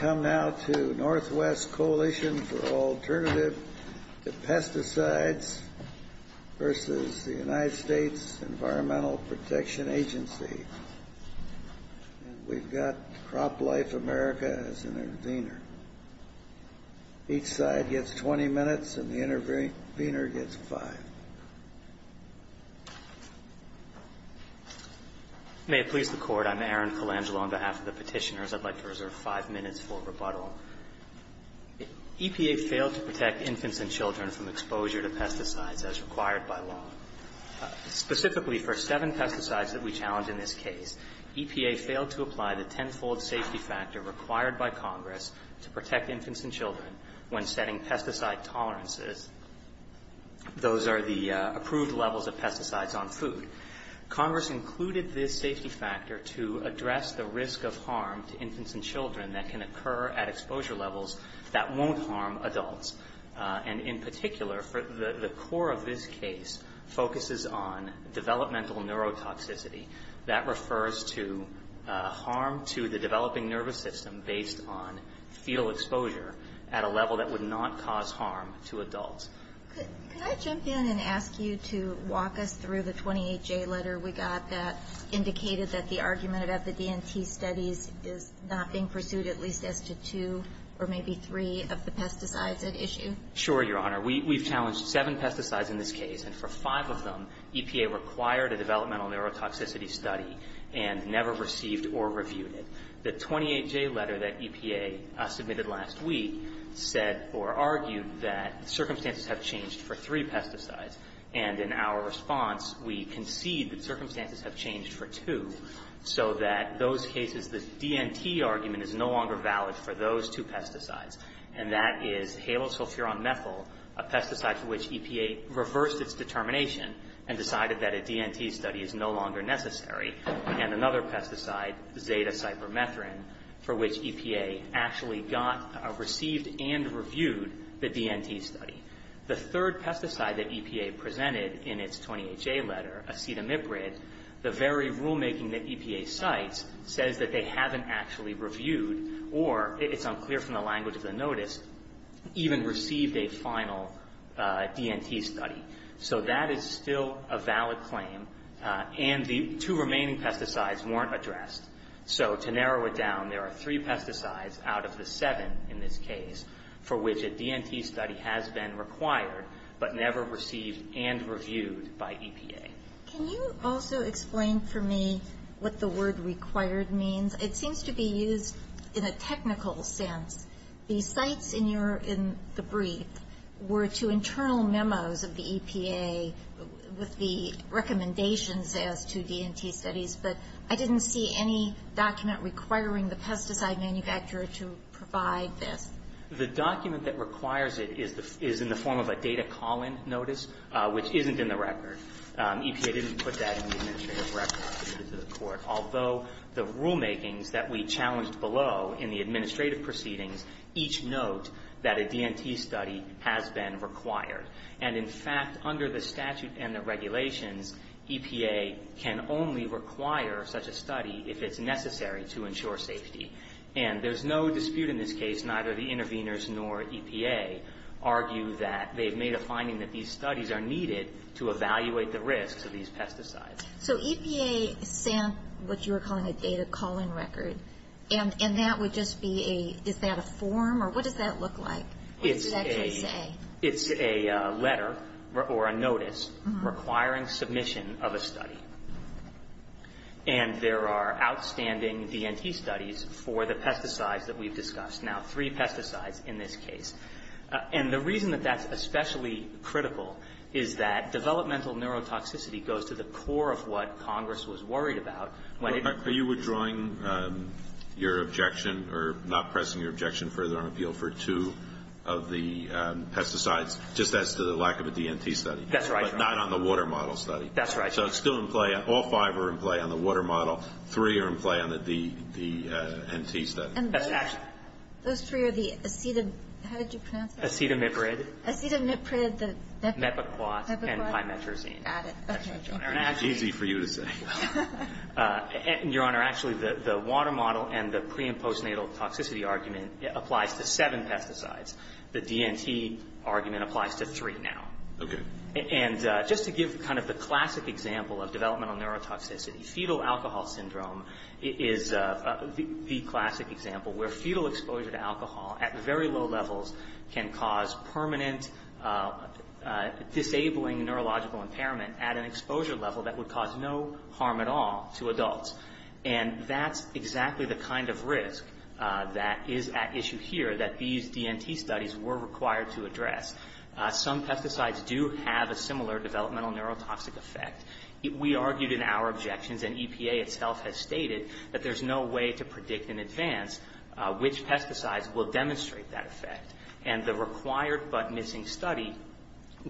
NW Coalition for Alternative to Pesticides v. EPA NW Coalition for Alternative to Pesticides v. EPA EPA failed to protect infants and children from exposure to pesticides as required by law. Specifically, for seven pesticides that we challenge in this case, EPA failed to apply the tenfold safety factor required by Congress to protect infants and children when setting pesticide tolerances. Those are the approved levels of pesticides on food. Congress included this safety factor to address the risk of harm to infants and children that can occur at exposure levels that won't harm adults. And in particular, the core of this case focuses on developmental neurotoxicity. That refers to harm to the developing nervous system based on fetal exposure at a level that would not cause harm to adults. Can I jump in and ask you to walk us through the 28-J letter we got that indicated that the argument of the DNT studies is not being pursued, at least as to two or maybe three of the pesticides at issue? Sure, Your Honor. We've challenged seven pesticides in this case, and for five of them, EPA required a developmental neurotoxicity study and never received or reviewed it. The 28-J letter that EPA submitted last week said or argued that circumstances have changed for three pesticides. And in our response, we concede that circumstances have changed for two, so that in those cases, the DNT argument is no longer valid for those two pesticides. And that is halosulfuromethyl, a pesticide for which EPA reversed its determination and decided that a DNT study is no longer necessary, and another pesticide, zeta-cypermethrin, for which EPA actually received and reviewed the DNT study. The third pesticide that EPA presented in its 28-J letter, acetamiprid, the very rulemaking that EPA cites says that they haven't actually reviewed or, it's unclear from the language of the notice, even received a final DNT study. So, that is still a valid claim, and the two remaining pesticides weren't addressed. So, to narrow it down, there are three pesticides out of the seven in this case for which a DNT study has been required, but never received and reviewed by EPA. Can you also explain for me what the word required means? Well, it seems to be used in a technical sense. The sites in the brief were to internal memos of the EPA with the recommendations there to DNT studies, but I didn't see any document requiring the pesticide manufacturer to provide this. The document that requires it is in the form of a data calling notice, which isn't in the record. EPA didn't put that in the administrative record. Although the rulemaking that we challenged below in the administrative proceedings each note that a DNT study has been required. And, in fact, under the statute and the regulations, EPA can only require such a study if it's necessary to ensure safety. And, there's no dispute in this case, neither the interveners nor EPA argue that they've made a finding that these studies are needed to evaluate the risks of these pesticides. So, EPA sent what you were calling a data calling record, and that would just be a, is that a form or what does that look like? It's a letter or a notice requiring submission of a study. And, there are outstanding DNT studies for the pesticides that we've discussed. Now, three pesticides in this case. And, the reason that that's especially critical is that developmental neurotoxicity goes to the core of what Congress was worried about. Are you withdrawing your objection or not pressing your objection further on appeal for two of the pesticides just as to the lack of a DNT study? That's right. Not on the water model study. That's right. So, it's still in play. All five are in play on the water model. Three are in play on the DNT study. And, those three are the acetamiprid, how did you pronounce that? Acetamiprid. Acetamiprid. Mepiquat. Mepiquat. And, thymetrazine. Got it. Easy for you to take. Your Honor, actually, the water model and the pre- and postnatal toxicity argument applies to seven pesticides. The DNT argument applies to three now. Okay. And, just to give kind of the classic example of developmental neurotoxicity, fetal alcohol syndrome is the classic example, where fetal exposure to alcohol at very low levels can cause permanent disabling neurological impairment at an exposure level that would cause no harm at all to adults. And, that's exactly the kind of risk that is at issue here that these DNT studies were required to address. Some pesticides do have a similar developmental neurotoxic effect. We argued in our objections, and EPA itself has stated that there's no way to predict in advance which pesticides will demonstrate that effect. And, the required but missing study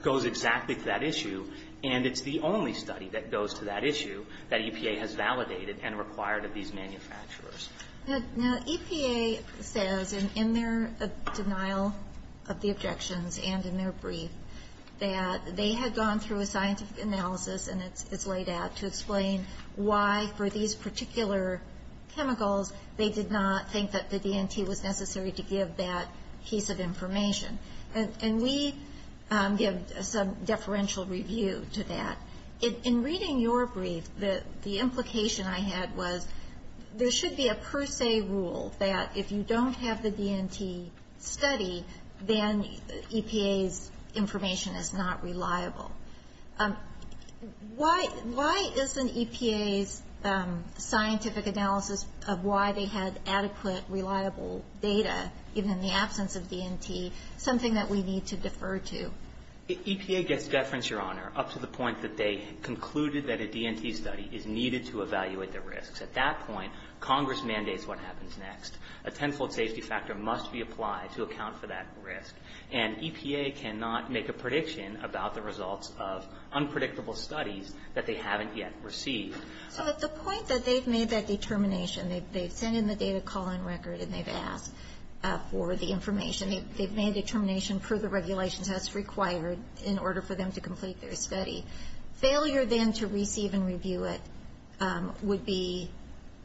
goes exactly to that issue. And, it's the only study that goes to that issue that EPA has validated and required of these manufacturers. Now, EPA says, in their denial of the objections and in their brief, that they had gone through a science analysis, and it's laid out to explain why, for these particular chemicals, they did not think that the DNT was necessary to give that piece of information. And, we give some deferential review to that. In reading your brief, the implication I had was there should be a per se rule that if you don't have the DNT studied, then EPA's information is not reliable. Why isn't EPA's scientific analysis of why they had adequate, reliable data, even in the absence of DNT, something that we need to defer to? EPA gets deference, Your Honor, up to the point that they concluded that a DNT study is needed to evaluate the risks. At that point, Congress mandates what happens next. A tensile safety factor must be applied to account for that risk. And, EPA cannot make a prediction about the results of unpredictable studies that they haven't yet received. Well, it's a point that they've made that determination. They've sent in the data call-in record, and they've asked for the information. They've made a determination for the regulation that's required in order for them to complete their study. Failure, then, to receive and review it would be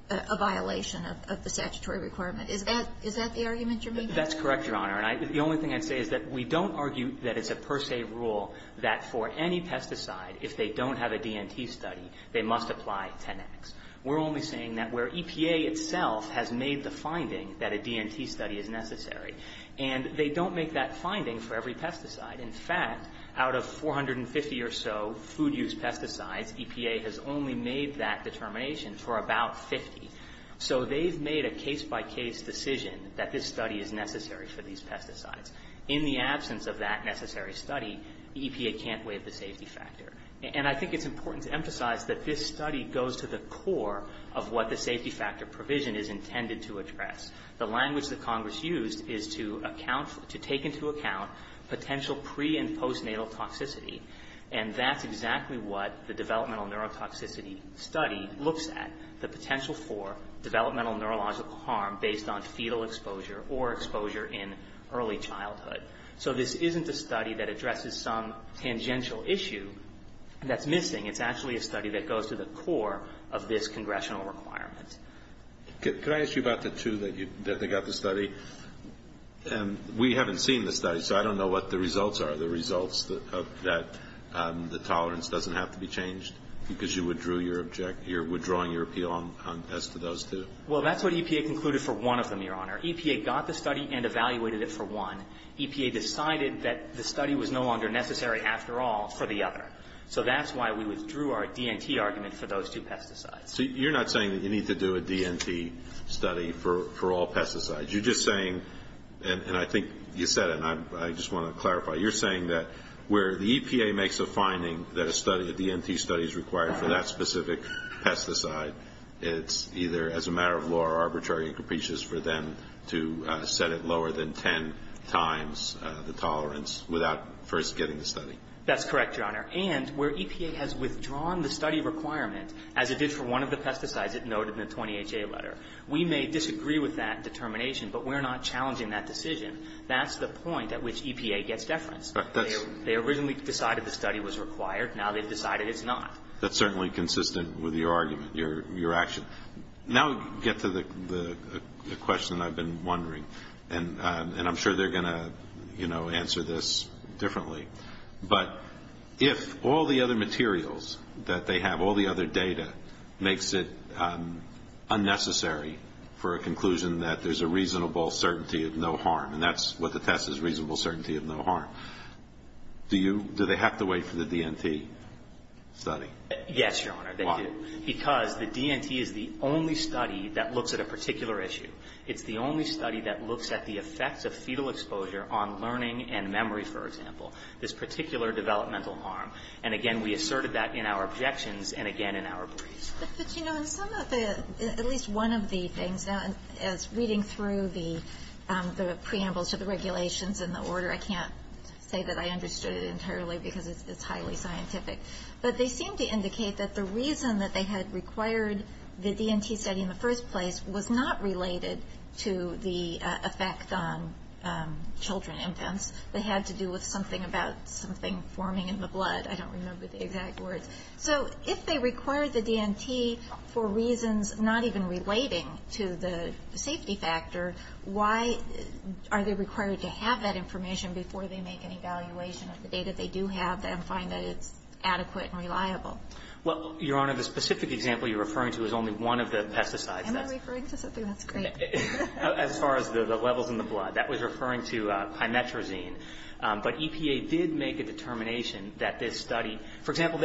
a violation of the statutory requirement. Is that the argument you're making? That's correct, Your Honor. And, the only thing I say is that we don't argue that it's a per se rule that for any pesticide, if they don't have a DNT study, they must apply genetics. We're only saying that where EPA itself has made the finding that a DNT study is necessary and they don't make that finding for every pesticide. In fact, out of 450 or so food-use pesticides, EPA has only made that determination for about 50. So, they've made a case-by-case decision that this study is necessary for these pesticides. In the absence of that necessary study, EPA can't waive the safety factor. And, I think it's important to emphasize that this study goes to the core of what the safety factor provision is intended to address. The language that Congress used is to take into account potential pre- and post-natal toxicity. And, that's exactly what the developmental neurotoxicity study looks at, the potential for developmental neurological harm based on fetal exposure or exposure in early childhood. So, this isn't a study that addresses some tangential issue that's missing. It's actually a study that goes to the core of this congressional requirement. Could I ask you about the two that you got the study? And, we haven't seen the study, so I don't know what the results are. The results of that, the tolerance doesn't have to be changed because you withdrew your appeal on pest to those two? Well, that's what EPA concluded for one of them, Your Honor. EPA got the study and evaluated it for one. EPA decided that the study was no longer necessary after all for the other. So, that's why we withdrew our DNT argument for those two pesticides. So, you're not saying that you need to do a DNT study for all pesticides. You're just saying, and I think you said it and I just want to clarify, you're saying that where the EPA makes a finding that a DNT study is required for that specific pesticide, it's either as a matter of law or arbitrary and capricious for them to set it lower than ten times the tolerance without first getting the study. That's correct, Your Honor. And, where EPA has withdrawn the study requirement, as it did for one of the pesticides, as noted in the 20HA letter, we may disagree with that determination, but we're not challenging that decision. That's the point at which EPA gets deference. They originally decided the study was required. Now, they've decided it's not. That's certainly consistent with your argument, your action. Now, get to the question I've been wondering, and I'm sure they're going to, you know, answer this differently. But, if all the other materials that they have, all the other data, makes it unnecessary for a conclusion that there's a reasonable certainty of no harm, and that's what the test is, reasonable certainty of no harm, do they have to wait for the DNT study? Yes, Your Honor. Why? Because the DNT is the only study that looks at a particular issue. It's the only study that looks at the effects of fetal exposure on learning and memory, for example. This particular developmental harm. And, again, we asserted that in our objections and, again, in our briefs. But, you know, in some of the, at least one of the things, as reading through the preamble to the regulations and the order, I can't say that I understood it entirely because it's highly scientific. But they seem to indicate that the reason that they had required the DNT study in the first place was not related to the effects on children and infants. They had to do with something about something forming in the blood. I don't remember the exact words. So if they required the DNT for reasons not even relating to the safety factor, why are they required to have that information before they make an evaluation of the data they do have and find that it's adequate and reliable? Well, Your Honor, the specific example you're referring to is only one of the pesticides. Am I referring to something that's great? As far as the levels in the blood. That was referring to pinetrazine. But EPA did make a determination that this study, for example,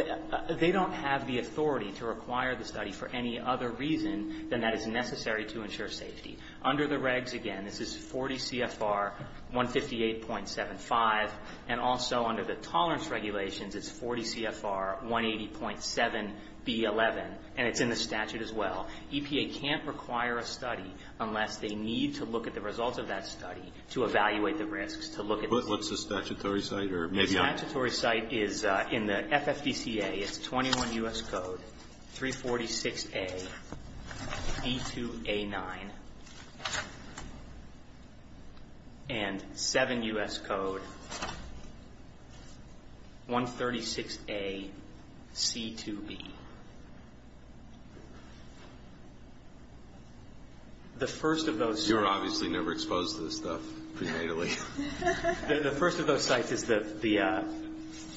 they don't have the authority to require the study for any other reason than that is necessary to ensure safety. Under the regs, again, this is 40 CFR 158.75. And also under the tolerance regulations, it's 40 CFR 180.7B11. And it's in the statute as well. EPA can't require a study unless they need to look at the results of that study to evaluate the risks. What's the statutory site? The statutory site is in the FFPCA. It's 21 U.S. Code 346A. B2A9. And 7 U.S. Code 136A. C2B. The first of those... You were obviously never exposed to this stuff, prenatally. The first of those sites is the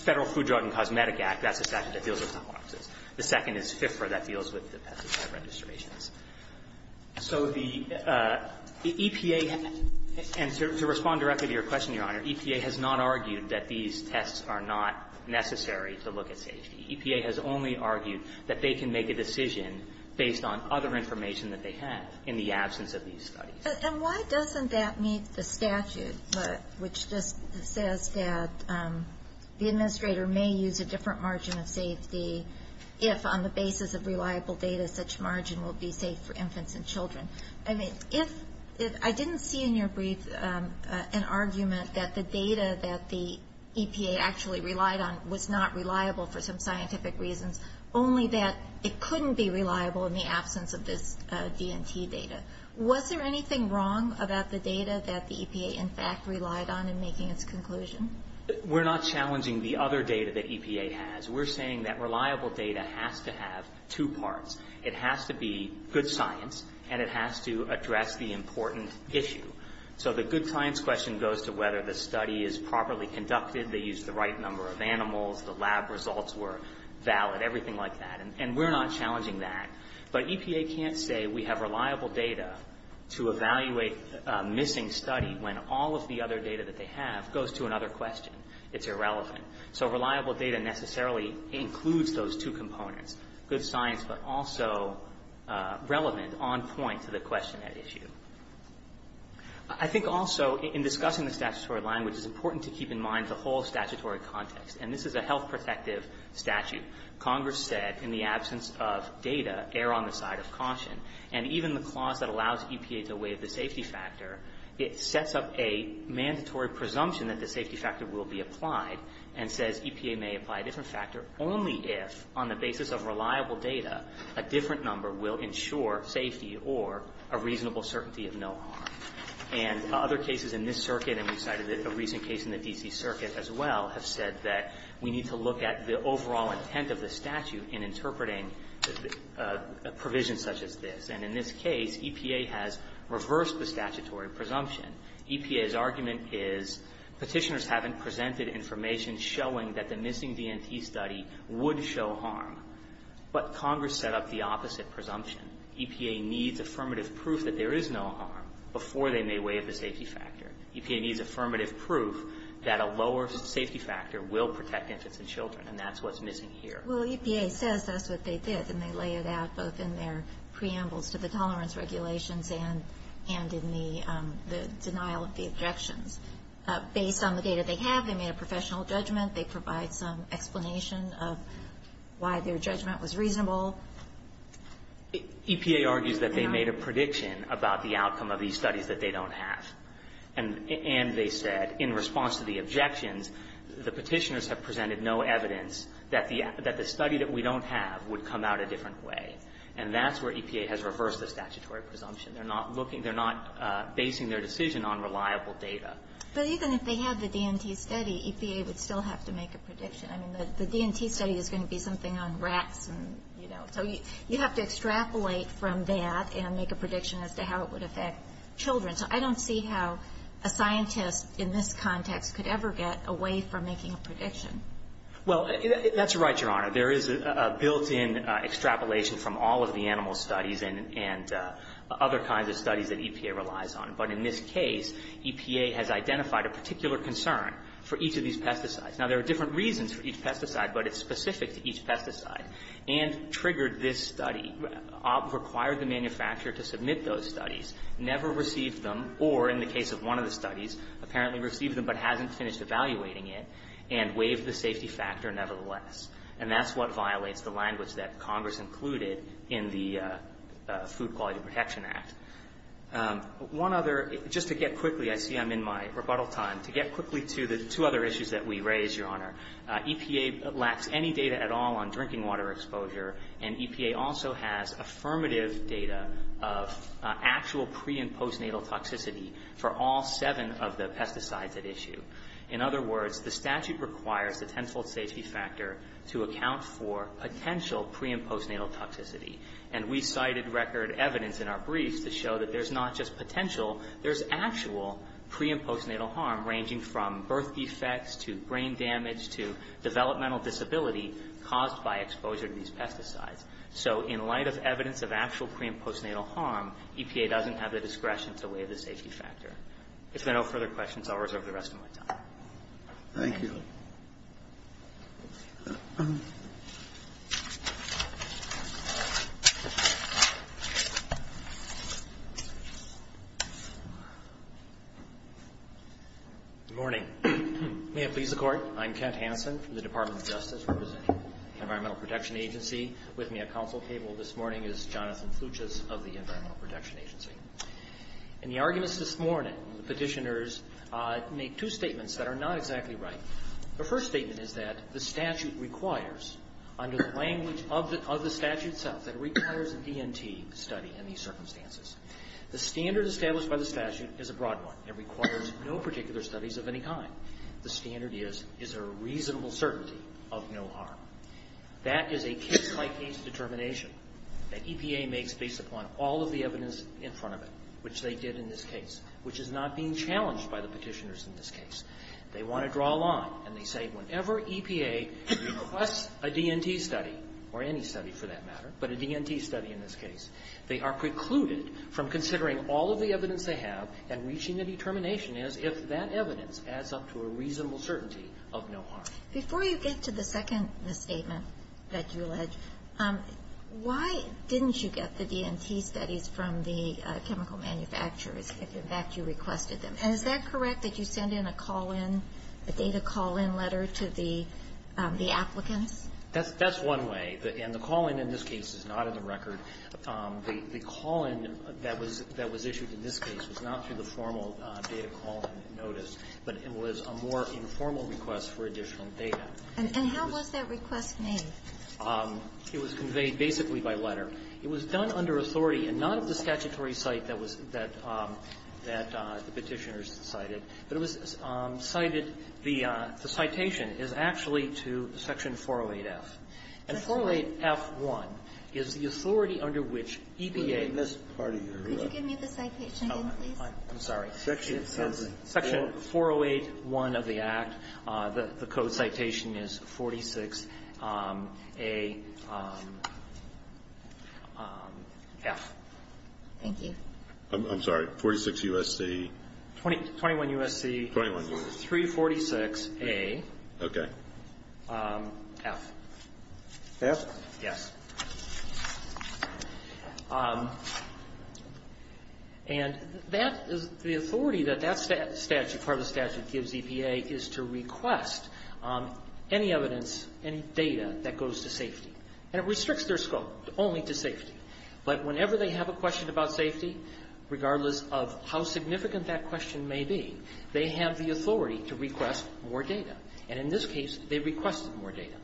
Federal Food, Drug, and Cosmetic Act. That's the statute that deals with the boxes. The second is FFPR. That deals with the FFPCA registrations. So the EPA... And to respond directly to your question, Your Honor, EPA has not argued that these tests are not necessary to look at safety. EPA has only argued that they can make a decision based on other information that they have in the absence of these sites. And why doesn't that meet the statute, which just says that the administrator may use a different margin of safety if, on the basis of reliable data, such margin will be safe for infants and children? I didn't see in your brief an argument that the data that the EPA actually relied on was not reliable for some scientific reasons, only that it couldn't be reliable in the absence of this D&T data. Was there anything wrong about the data that the EPA, in fact, relied on in making its conclusion? We're not challenging the other data that EPA has. We're saying that reliable data has to have two parts. It has to be good science, and it has to address the important issue. So the good science question goes to whether the study is properly conducted, they used the right number of animals, the lab results were valid, everything like that. And we're not challenging that. But EPA can't say we have reliable data to evaluate a missing study when all of the other data that they have goes to another question. It's irrelevant. So reliable data necessarily includes those two components, good science but also relevant, on point to the question at issue. I think also in discussing the statutory language, it's important to keep in mind the whole statutory context. And this is a health protective statute. Congress said in the absence of data, err on the side of caution. And even the clause that allows EPA to waive the safety factor, it sets up a mandatory presumption that the safety factor will be applied and says EPA may apply a different factor only if, on the basis of reliable data, a different number will ensure safety or a reasonable certainty of no harm. And other cases in this circuit, and we cited a recent case in the D&T circuit as well, have said that we need to look at the overall intent of the statute in interpreting a provision such as this. And in this case, EPA has reversed the statutory presumption. EPA's argument is petitioners haven't presented information showing that the missing D&T study would show harm. But Congress set up the opposite presumption. EPA needs affirmative proof that there is no harm before they may waive the safety factor. EPA needs affirmative proof that a lower safety factor will protect infants and children, and that's what's missing here. Well, EPA says that's what they did, and they lay it out both in their preamble to the tolerance regulations and in the denial of the objection. Based on the data they have, they made a professional judgment. They provide some explanation of why their judgment was reasonable. EPA argues that they made a prediction about the outcome of these studies that they don't have. And they said, in response to the objections, the petitioners have presented no evidence that the study that we don't have would come out a different way. And that's where EPA has reversed the statutory presumption. They're not looking. They're not basing their decision on reliable data. But even if they have the D&T study, EPA would still have to make a prediction. I mean, the D&T study is going to be something on rats, you know. So you have to extrapolate from that and make a prediction as to how it would affect children. So I don't see how a scientist in this context could ever get away from making a prediction. Well, that's right, Your Honor. There is a built-in extrapolation from all of the animal studies and other kinds of studies that EPA relies on. But in this case, EPA has identified a particular concern for each of these pesticides. Now, there are different reasons for each pesticide, but it's specific to each pesticide and triggered this study, required the manufacturer to submit those studies, never received them, or in the case of one of the studies, apparently received them but hasn't finished evaluating it, and waived the safety factor nevertheless. And that's what violates the language that Congress included in the Food Quality Protection Act. One other, just to get quickly, I see I'm in my rebuttal time, to get quickly to the two other issues that we raised, Your Honor. EPA lacks any data at all on drinking water exposure, and EPA also has affirmative data of actual pre-imposed natal toxicity for all seven of the pesticides at issue. In other words, the statute requires the tenfold safety factor to account for potential pre-imposed natal toxicity. And we've cited record evidence in our briefs to show that there's not just potential, there's actual pre-imposed natal harm ranging from birth defects to brain damage to developmental disability caused by exposure to these pesticides. So, in light of evidence of actual pre-imposed natal harm, EPA doesn't have the discretion to waive the safety factor. If there are no further questions, I'll reserve the rest of my time. Thank you. Good morning. May it please the Court, I'm Kent Hanson from the Department of Justice, representing the Environmental Protection Agency. With me at counsel table this morning is Jonathan Fluches of the Environmental Protection Agency. In the arguments this morning, the petitioners made two statements that are not exactly right. The first statement is that the statute requires, under the language of the statute itself, that it requires a D&T study in these circumstances. The standard established by the statute is a broad one and requires no particular studies of any kind. The standard is, is there a reasonable certainty of no harm. That is a case-by-case determination that EPA makes based upon all of the evidence in front of it, which they did in this case, which is not being challenged by the petitioners in this case. They want to draw a line and they say whenever EPA requests a D&T study, or any study for that matter, but a D&T study in this case, they are precluded from considering all of the evidence they have and reaching the determination as if that evidence adds up to a reasonable certainty of no harm. Before you get to the second statement that you alleged, why didn't you get the D&T studies from the chemical manufacturers if in fact you requested them? Is that correct that you send in a call-in, a data call-in letter to the applicant? That's one way. And the call-in in this case is not in the record. The call-in that was issued in this case was not through the formal data call-in notice, but it was a more informal request for additional data. And how was that request made? It was conveyed basically by letter. It was done under authority and not at the statutory site that the petitioners cited. But it was cited, the citation is actually to Section 408F. And 408F1 is the authority under which EPA... Could you give me the citation, please? I'm sorry. Section 408. Section 408. Section 408. Section 408. Section 408 of the Act, the code citation is 46AF. Thank you. I'm sorry, 46USC... 21USC... 21USC. ...346AF. Okay. AF. AF? Yes. And that is the authority that that statute, part of the statute, gives EPA is to request any evidence and data that goes to safety, and it restricts their scope only to safety. But whenever they have a question about safety, regardless of how significant that question may be, they have the authority to request more data, and in this case, they requested more data.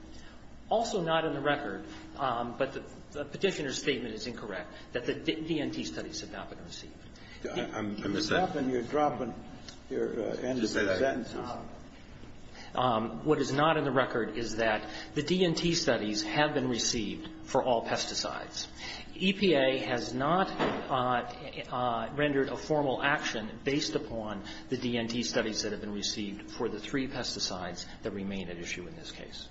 Also not in the record, but the petitioner's statement is incorrect, that the D&T studies have not been received. I'm... You're dropping... You're dropping your end of the sentence. What is not in the record is that the D&T studies have been received for all pesticides. EPA has not rendered a formal action based upon the D&T studies that have been received for the three pesticides that remain at issue in this case.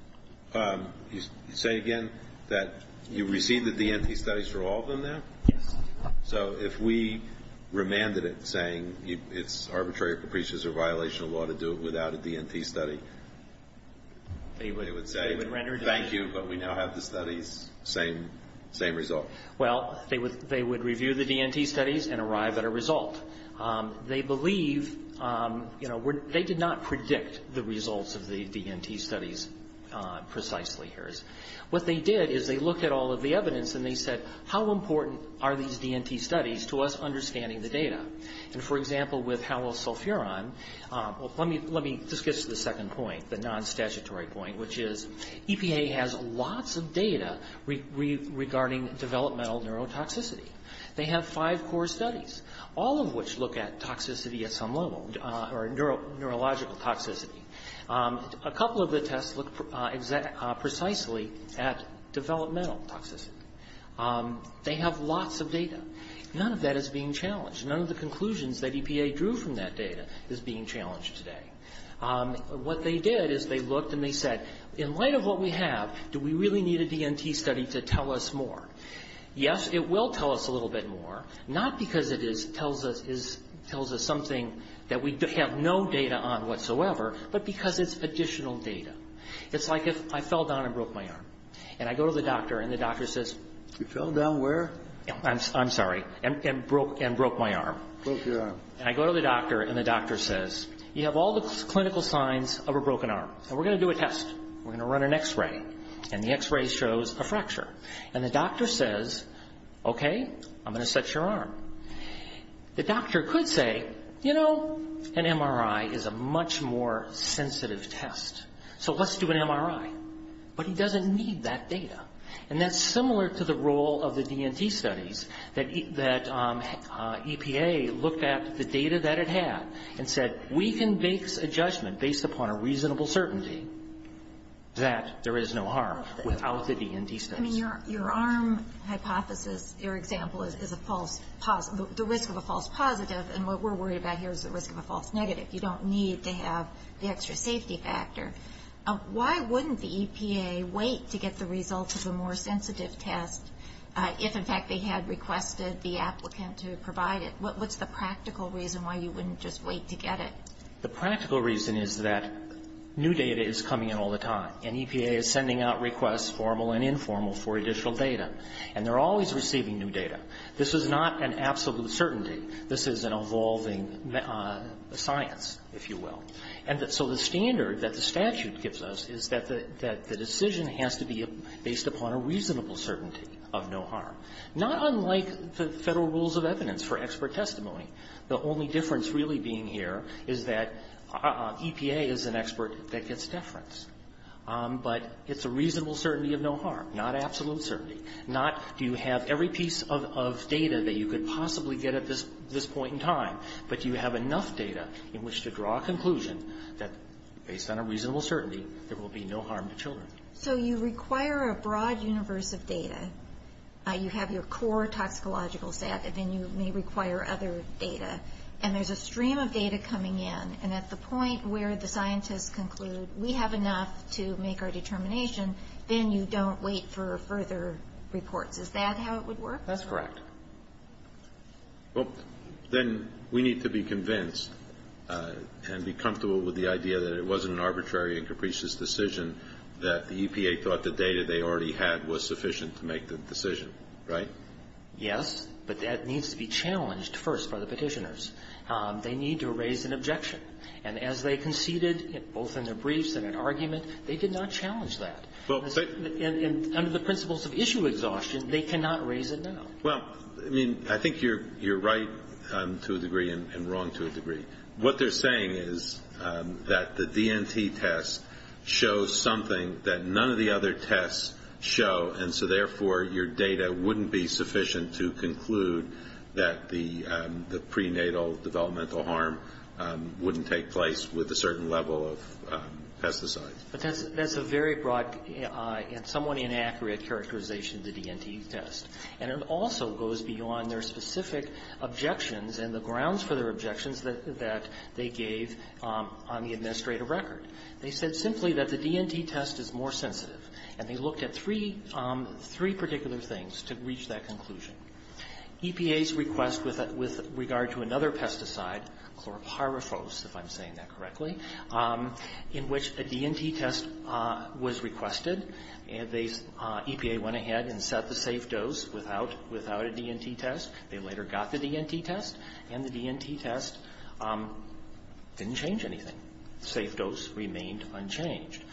You say again that you received the D&T studies for all of them now? Yes. So if we remanded it saying it's arbitrary, capricious, or violation of law to do it without a D&T study, they would say... They would render... ...thank you, but we now have the studies, same result. Well, they would review the D&T studies and arrive at a result. They believe, you know, they did not predict the results of the D&T studies precisely. What they did is they looked at all of the evidence and they said, how important are these D&T studies to us understanding the data? For example, with halosulfuron, let me just get to the second point, the non-statutory point, which is EPA has lots of data regarding developmental neurotoxicity. They have five core studies. All of which look at toxicity at some level, or neurological toxicity. A couple of the tests look precisely at developmental toxicity. They have lots of data. None of that is being challenged. None of the conclusions that EPA drew from that data is being challenged today. What they did is they looked and they said, in light of what we have, do we really need a D&T study to tell us more? Yes, it will tell us a little bit more. Not because it tells us something that we have no data on whatsoever, but because it's additional data. It's like if I fell down and broke my arm. And I go to the doctor and the doctor says, you fell down where? I'm sorry. And broke my arm. Broke your arm. And I go to the doctor and the doctor says, you have all the clinical signs of a broken arm. And we're going to do a test. We're going to run an x-ray. And the x-ray shows a fracture. And the doctor says, okay, I'm going to set your arm. The doctor could say, you know, an MRI is a much more sensitive test. So let's do an MRI. But he doesn't need that data. And that's similar to the role of the D&T studies that EPA looked at the data that it had and said, we can make a judgment based upon a reasonable certainty that there is no harm without the D&T studies. I mean, your arm hypothesis, your example is the risk of a false positive. And what we're worried about here is the risk of a false negative. You don't need to have the extra safety factor. Why wouldn't the EPA wait to get the results of a more sensitive test if, in fact, they had requested the applicant to provide it? What's the practical reason why you wouldn't just wait to get it? The practical reason is that new data is coming out all the time. And EPA is sending out requests, formal and informal, for additional data. And they're always receiving new data. This is not an absolute certainty. This is an evolving science, if you will. And so the standard that the statute gives us is that the decision has to be based upon a reasonable certainty of no harm, not unlike the federal rules of evidence for expert testimony. The only difference, really, being here is that EPA is an expert that gets deference. But it's a reasonable certainty of no harm, not absolute certainty. Not do you have every piece of data that you could possibly get at this point in time, but do you have enough data in which to draw a conclusion that, based on a reasonable certainty, there will be no harm to children. So you require a broad universe of data. You have your core toxicological set, and then you may require other data. And there's a stream of data coming in. And at the point where the scientists conclude, we have enough to make our determination, then you don't wait for a further report. Is that how it would work? That's correct. Well, then we need to be convinced and be comfortable with the idea that it wasn't an arbitrary and capricious decision, that the EPA thought the data they already had was the right data to make the decision, right? Yes, but that needs to be challenged first by the petitioners. They need to raise an objection. And as they conceded, both in their briefs and in arguments, they did not challenge that. And under the principles of issue exhaustion, they cannot raise a no. Well, I mean, I think you're right to a degree and wrong to a degree. What they're saying is that the DNT test shows something that none of the other tests show, and so therefore, your data wouldn't be sufficient to conclude that the prenatal developmental harm wouldn't take place with a certain level of pesticides. That's a very broad and somewhat inaccurate characterization of the DNT test. And it also goes beyond their specific objections and the grounds for their objections that they gave on the administrative record. They said simply that the DNT test is more sensitive. And they looked at three particular things to reach that conclusion. EPA's request with regard to another pesticide, chlorpyrifos, if I'm saying that correctly, in which a DNT test was requested, and EPA went ahead and set the safe dose without a DNT test. They later got the DNT test, and the DNT test didn't change anything. The safe dose remained unchanged.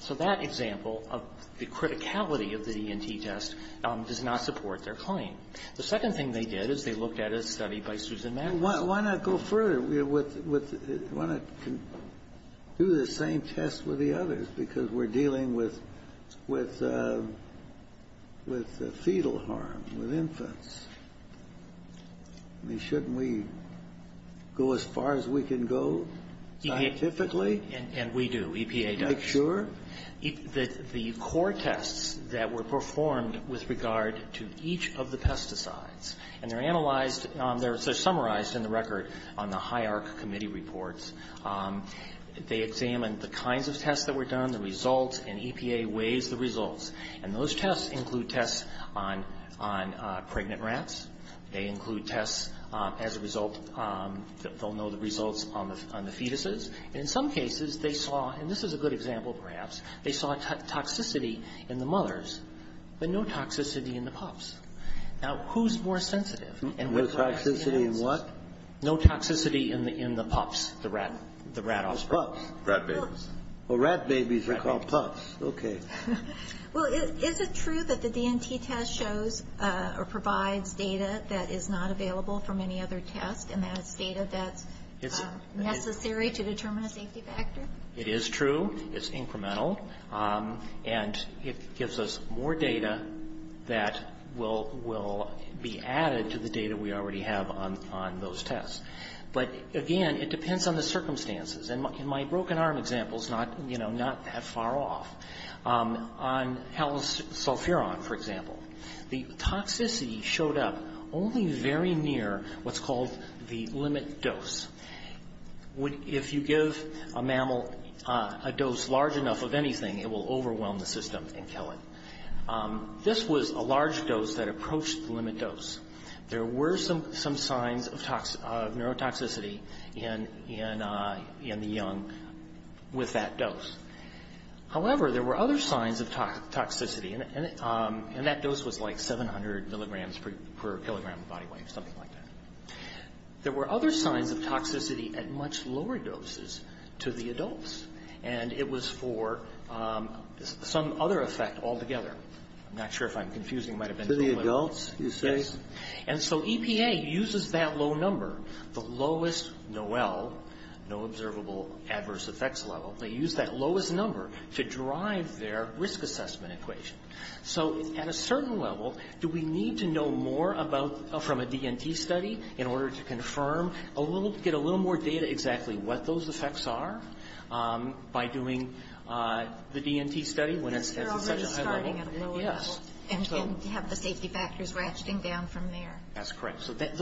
So that example of the criticality of the DNT test does not support their claim. The second thing they did is they looked at a study by Susan Maguire. Why not go further? Why not do the same test with the others? Because we're dealing with fetal harm, with infants. Shouldn't we go as far as we can go scientifically? And we do. EPA does. Sure. The core tests that were performed with regard to each of the pesticides, and they're analyzed, they're summarized in the record on the high arc committee reports. They examined the kinds of tests that were done, the results, and EPA weighed the results. And those tests include tests on pregnant rats. They include tests as a result, they'll know the results on the fetuses. In some cases, they saw, and this is a good example perhaps, they saw toxicity in the mothers, but no toxicity in the pups. Now, who's more sensitive? With toxicity in what? No toxicity in the pups, the rattles. Pups. Rat babies. Well, rat babies are called pups. Okay. Well, is it true that the DNT test shows or provides data that is not available from any other test and that data that's necessary to determine a safety factor? It is true. It's incremental. And it gives us more data that will be added to the data we already have on those tests. But again, it depends on the circumstances. And my broken arm example is not that far off. On Helen's Sulphuron, for example, the toxicity showed up only very near what's called the limit dose. If you give a mammal a dose large enough of anything, it will overwhelm the system and kill it. This was a large dose that approached the limit dose. There were some signs of neurotoxicity in the young with that dose. However, there were other signs of toxicity. And that dose was like 700 milligrams per kilogram of body weight, something like that. There were other signs of toxicity at much lower doses to the adults. And it was for some other effect altogether. I'm not sure if I'm confusing it. To the adults, you say? Yes. And so EPA uses that low number, the lowest NOEL, no observable adverse effects level. They use that lowest number to drive their risk assessment equation. So, at a certain level, do we need to know more from a D&T study in order to confirm, get a little more data exactly what those effects are by doing the D&T study when it's such a high level? Yes. And have the safety factors ratcheting down from there. That's correct. So, that's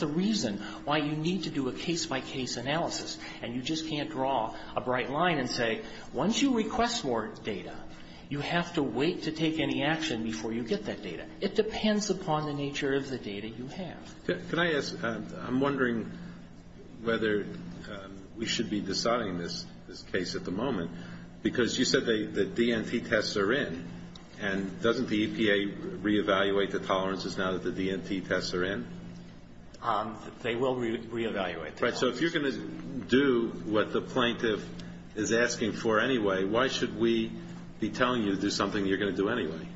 the reason why you need to do a case-by-case analysis. And you just can't draw a bright line and say, once you request more data, you have to wait to take any action before you get that data. It depends upon the nature of the data you have. Can I ask? I'm wondering whether we should be deciding this case at the moment. Because you said the D&T tests are in. And doesn't the EPA reevaluate the tolerances now that the D&T tests are in? They will reevaluate. Right. So, if you're going to do what the plaintiff is asking for anyway, why should we be telling you to do something you're going to do anyway?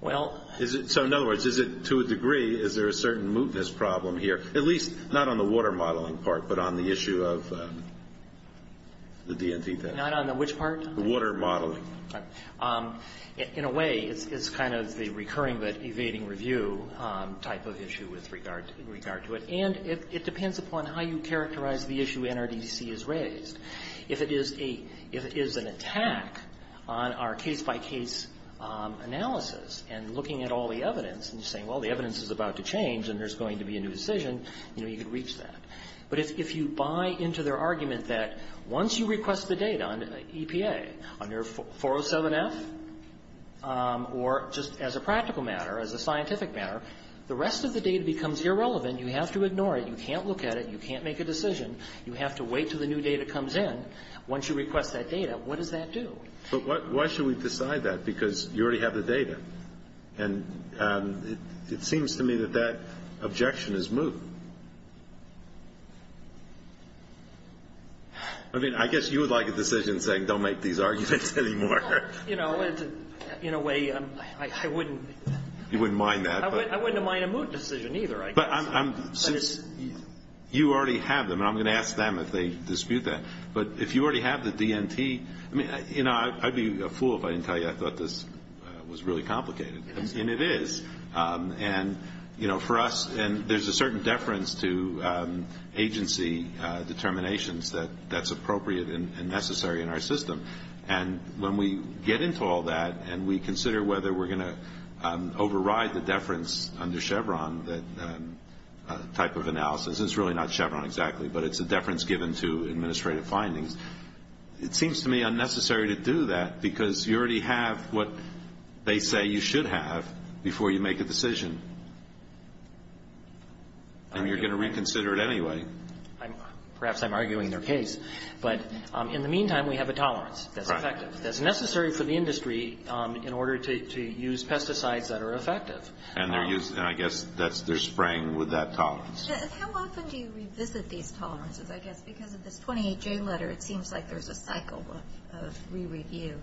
Well... So, in other words, to a degree, is there a certain mootness problem here? At least, not on the water modeling part, but on the issue of the D&T test. Not on which part? The water modeling. Right. In a way, it's kind of the recurring but evading review type of issue with regard to it. And it depends upon how you characterize the issue NRDC has raised. If it is an attack on our case-by-case analysis and looking at all the evidence and saying, well, the evidence is about to change and there's going to be a new decision, you know, you can reach that. But if you buy into their argument that once you request the data on the EPA, on your 407F, or just as a practical matter, as a scientific matter, the rest of the data becomes irrelevant. You have to ignore it. You can't look at it. You can't make a decision. You have to wait until the new data comes in. Once you request that data, what does that do? But why should we decide that? Because you already have the data. And it seems to me that that objection is moot. I mean, I guess you would like a decision saying, don't make these arguments anymore. You know, in a way, I wouldn't... You wouldn't mind that. I wouldn't mind a moot decision either. But you already have them. And I'm going to ask them if they dispute that. But if you already have the BNT... I mean, you know, I'd be a fool if I didn't tell you I thought this was really complicated. And it is. And, you know, for us, there's a certain deference to agency determinations that's appropriate and necessary in our system. And when we get into all that and we consider whether we're going to override the deference under Chevron, that type of analysis... It's really not Chevron exactly, but it's a deference given to administrative findings. It seems to me unnecessary to do that because you already have what they say you should have before you make a decision. And you're going to reconsider it anyway. Perhaps I'm arguing their case. But in the meantime, we have a tolerance that's effective. That's necessary for the industry in order to use pesticides that are effective. And I guess they're spraying with that tolerance. How often do you revisit these tolerances? I guess because of the 28-J letter, it seems like there's a cycle of re-review.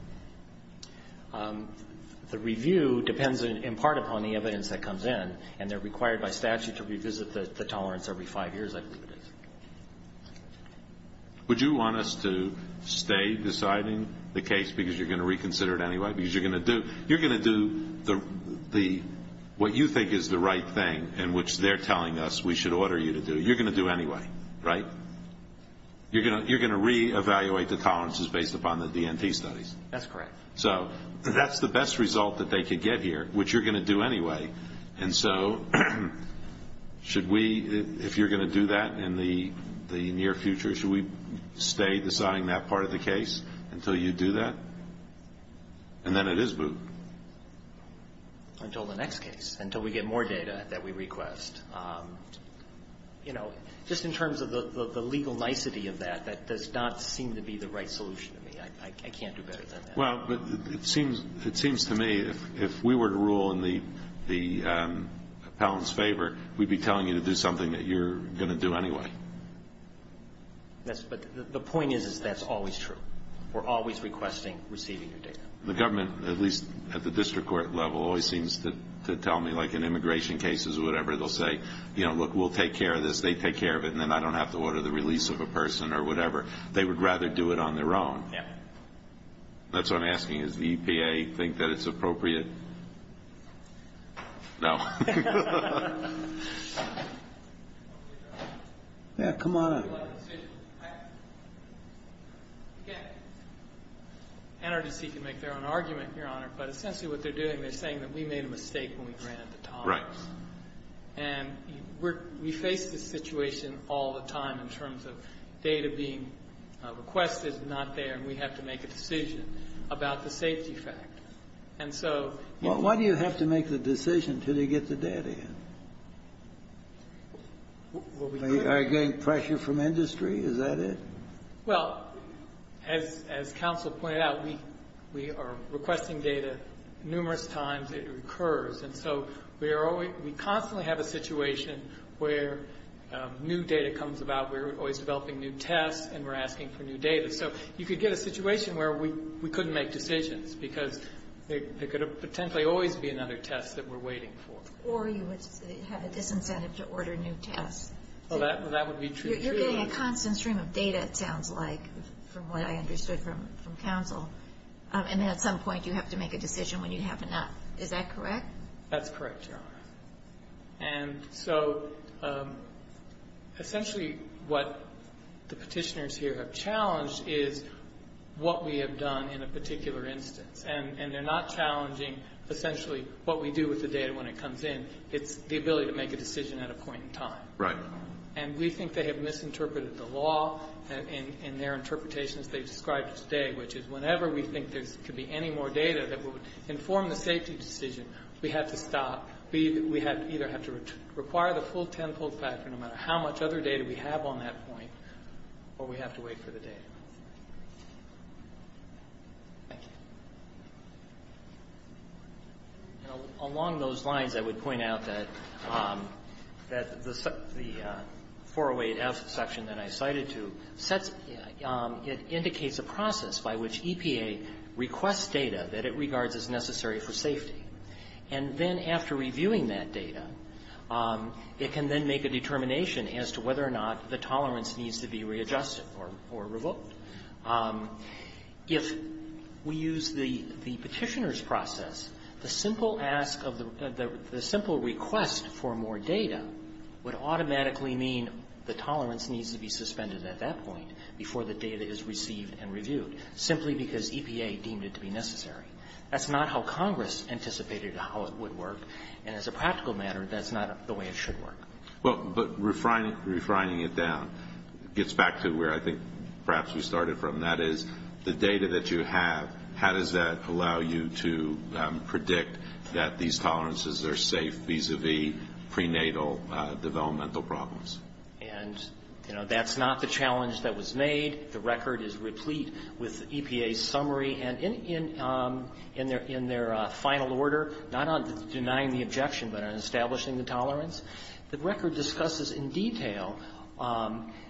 The review depends in part upon the evidence that comes in. And they're required by statute to revisit the tolerance every five years. Would you want us to stay deciding the case because you're going to reconsider it anyway? Because you're going to do what you think is the right thing in which they're telling us we should order you to do. You're going to do it anyway, right? You're going to re-evaluate the tolerances based upon the DNT studies. That's correct. So that's the best result that they could get here, which you're going to do anyway. If you're going to do that in the near future, should we stay deciding that part of the case until you do that? And then it is moved. Until the next case, until we get more data that we request. You know, just in terms of the legal nicety of that, that does not seem to be the right solution to me. I can't do better than that. Well, it seems to me if we were to rule in the appellant's favor, we'd be telling you to do something that you're going to do anyway. Yes, but the point is that that's always true. We're always requesting receiving the data. The government, at least at the district court level, always seems to tell me, like in immigration cases or whatever, they'll say, you know, look, we'll take care of this, they take care of it, and then I don't have to order the release of a person or whatever. They would rather do it on their own. That's what I'm asking. Does the EPA think that it's appropriate? No. Yeah, come on up. Well, it's... Energy can make their own argument, Your Honor, but essentially what they're doing, they're saying that we made a mistake when we ran out of time. Right. And we face this situation all the time in terms of data being requested, not there, and we have to make a decision about the safety factors. And so... Well, why do you have to make the decision until you get the data yet? Well, we... Are you getting pressure from industry? Is that it? Well, as counsel pointed out, we are requesting data numerous times. It recurs. And so we constantly have a situation where new data comes about, we're always developing new tests, and we're asking for new data. So you could get a situation where we couldn't make decisions because there could potentially always be another test that we're waiting for. Or you would have a disincentive to order new tests. Well, that would be true, too. You're getting a constant stream of data, it sounds like, from what I understood from counsel. And at some point, you have to make a decision when you have enough. Is that correct? That's correct, Your Honor. And so... essentially what the petitioners here have challenged is what we have done in a particular instance. And they're not challenging, essentially, what we do with the data when it comes in. It's the ability to make a decision at a point in time. Right. And we think they have misinterpreted the law in their interpretations they've described today, which is whenever we think there could be any more data that would inform the safety decision, we have to stop. We either have to require the full tenfold factor, no matter how much other data we have on that point, or we have to wait for the data. Thank you. Along those lines, I would point out that the 408F section that I cited to indicates a process by which EPA requests data that it regards as necessary for safety. And then after reviewing that data, it can then make a determination as to whether or not the tolerance needs to be readjusted or revoked. If we use the petitioner's process, the simple request for more data would automatically mean the tolerance needs to be suspended at that point before the data is received and reviewed, simply because EPA deemed it to be necessary. That's not how Congress anticipated how it would work. And as a practical matter, that's not the way it should work. But refining it down, it gets back to where I think perhaps we started from. That is, the data that you have, how does that allow you to predict that these tolerances are safe vis-a-vis prenatal developmental problems? And that's not the challenge that was made. The record is replete with EPA's summary. And in their final order, not on denying the objection, but on establishing the tolerance, the record discusses in detail,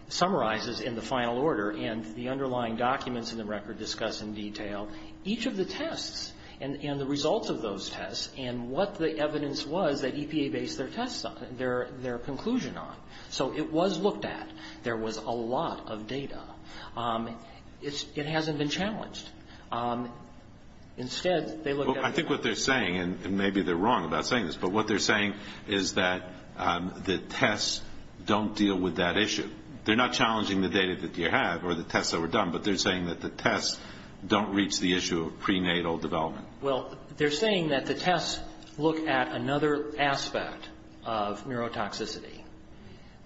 summarizes in the final order, and the underlying documents in the record discuss in detail each of the tests and the results of those tests and what the evidence was that EPA based their tests on, their conclusion on. So it was looked at. There was a lot of data. It hasn't been challenged. Instead, they looked at... I think what they're saying, and maybe they're wrong about saying this, but what they're saying is that the tests don't deal with that issue. They're not challenging the data that you have or the tests that were done, but they're saying that the tests don't reach the issue of prenatal development. Well, they're saying that the tests look at another aspect of neurotoxicity.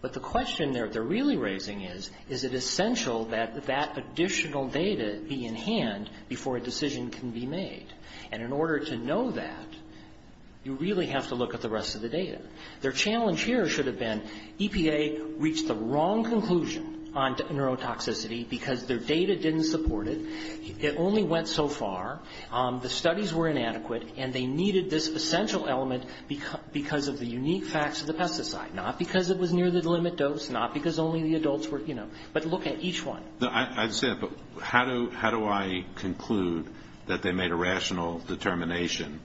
But the question they're really raising is, is it essential that that additional data be in hand before a decision can be made? And in order to know that, you really have to look at the rest of the data. Their challenge here should have been, EPA reached the wrong conclusion on neurotoxicity because their data didn't support it. It only went so far. The studies were inadequate, and they needed this essential element because of the unique facts of the pesticide, not because it was near the limit dose, not because only the adults were, you know. But look at each one. I understand, but how do I conclude that they made a rational determination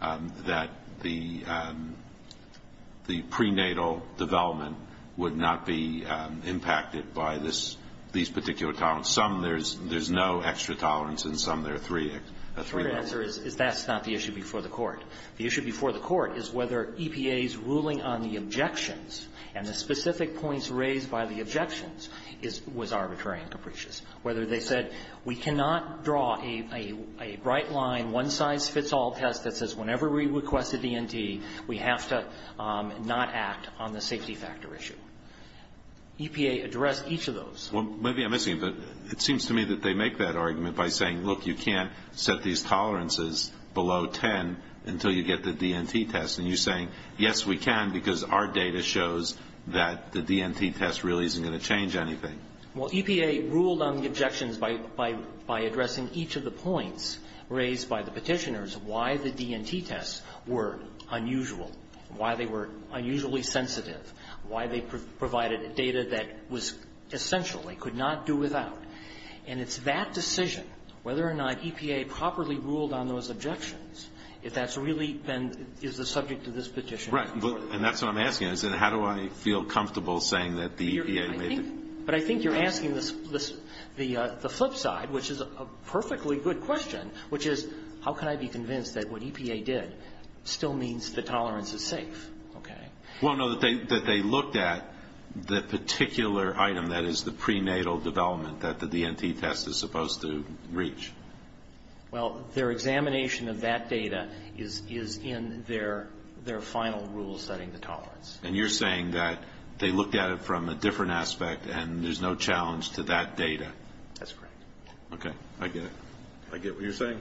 that the prenatal development would not be impacted by these particular tolerance? Some, there's no extra tolerance, and some there are three. That's not the issue before the court. The issue before the court is whether EPA's ruling on the objections and the specific points raised by the objections was arbitrary and capricious. Whether they said, we cannot draw a bright line, one-size-fits-all test that says, whenever we request a D&D, we have to not act on the safety factor issue. EPA addressed each of those. Well, maybe I'm missing, but it seems to me that they make that argument by saying, look, you can't set these tolerances below 10 until you get the D&T test. And you're saying, yes, we can because our data shows that the D&T test really isn't going to change anything. Well, EPA ruled on the objections by addressing each of the points raised by the petitioners as to why the D&T tests were unusual, why they were unusually sensitive, why they provided data that was essential, they could not do without. And it's that decision, whether or not EPA properly ruled on those objections, if that's really been, is the subject of this petition. Right, and that's what I'm asking. How do I feel comfortable saying that the EPA made it? But I think you're asking the flip side, which is a perfectly good question, which is, how can I be convinced that what EPA did still means the tolerance is safe? Okay. Well, no, that they looked at the particular item, that is the prenatal development that the D&T test is supposed to reach. Well, their examination of that data is in their final rule setting the tolerance. And you're saying that they looked at it from a different aspect and there's no challenge to that data? That's correct. Okay, I get it. I get what you're saying.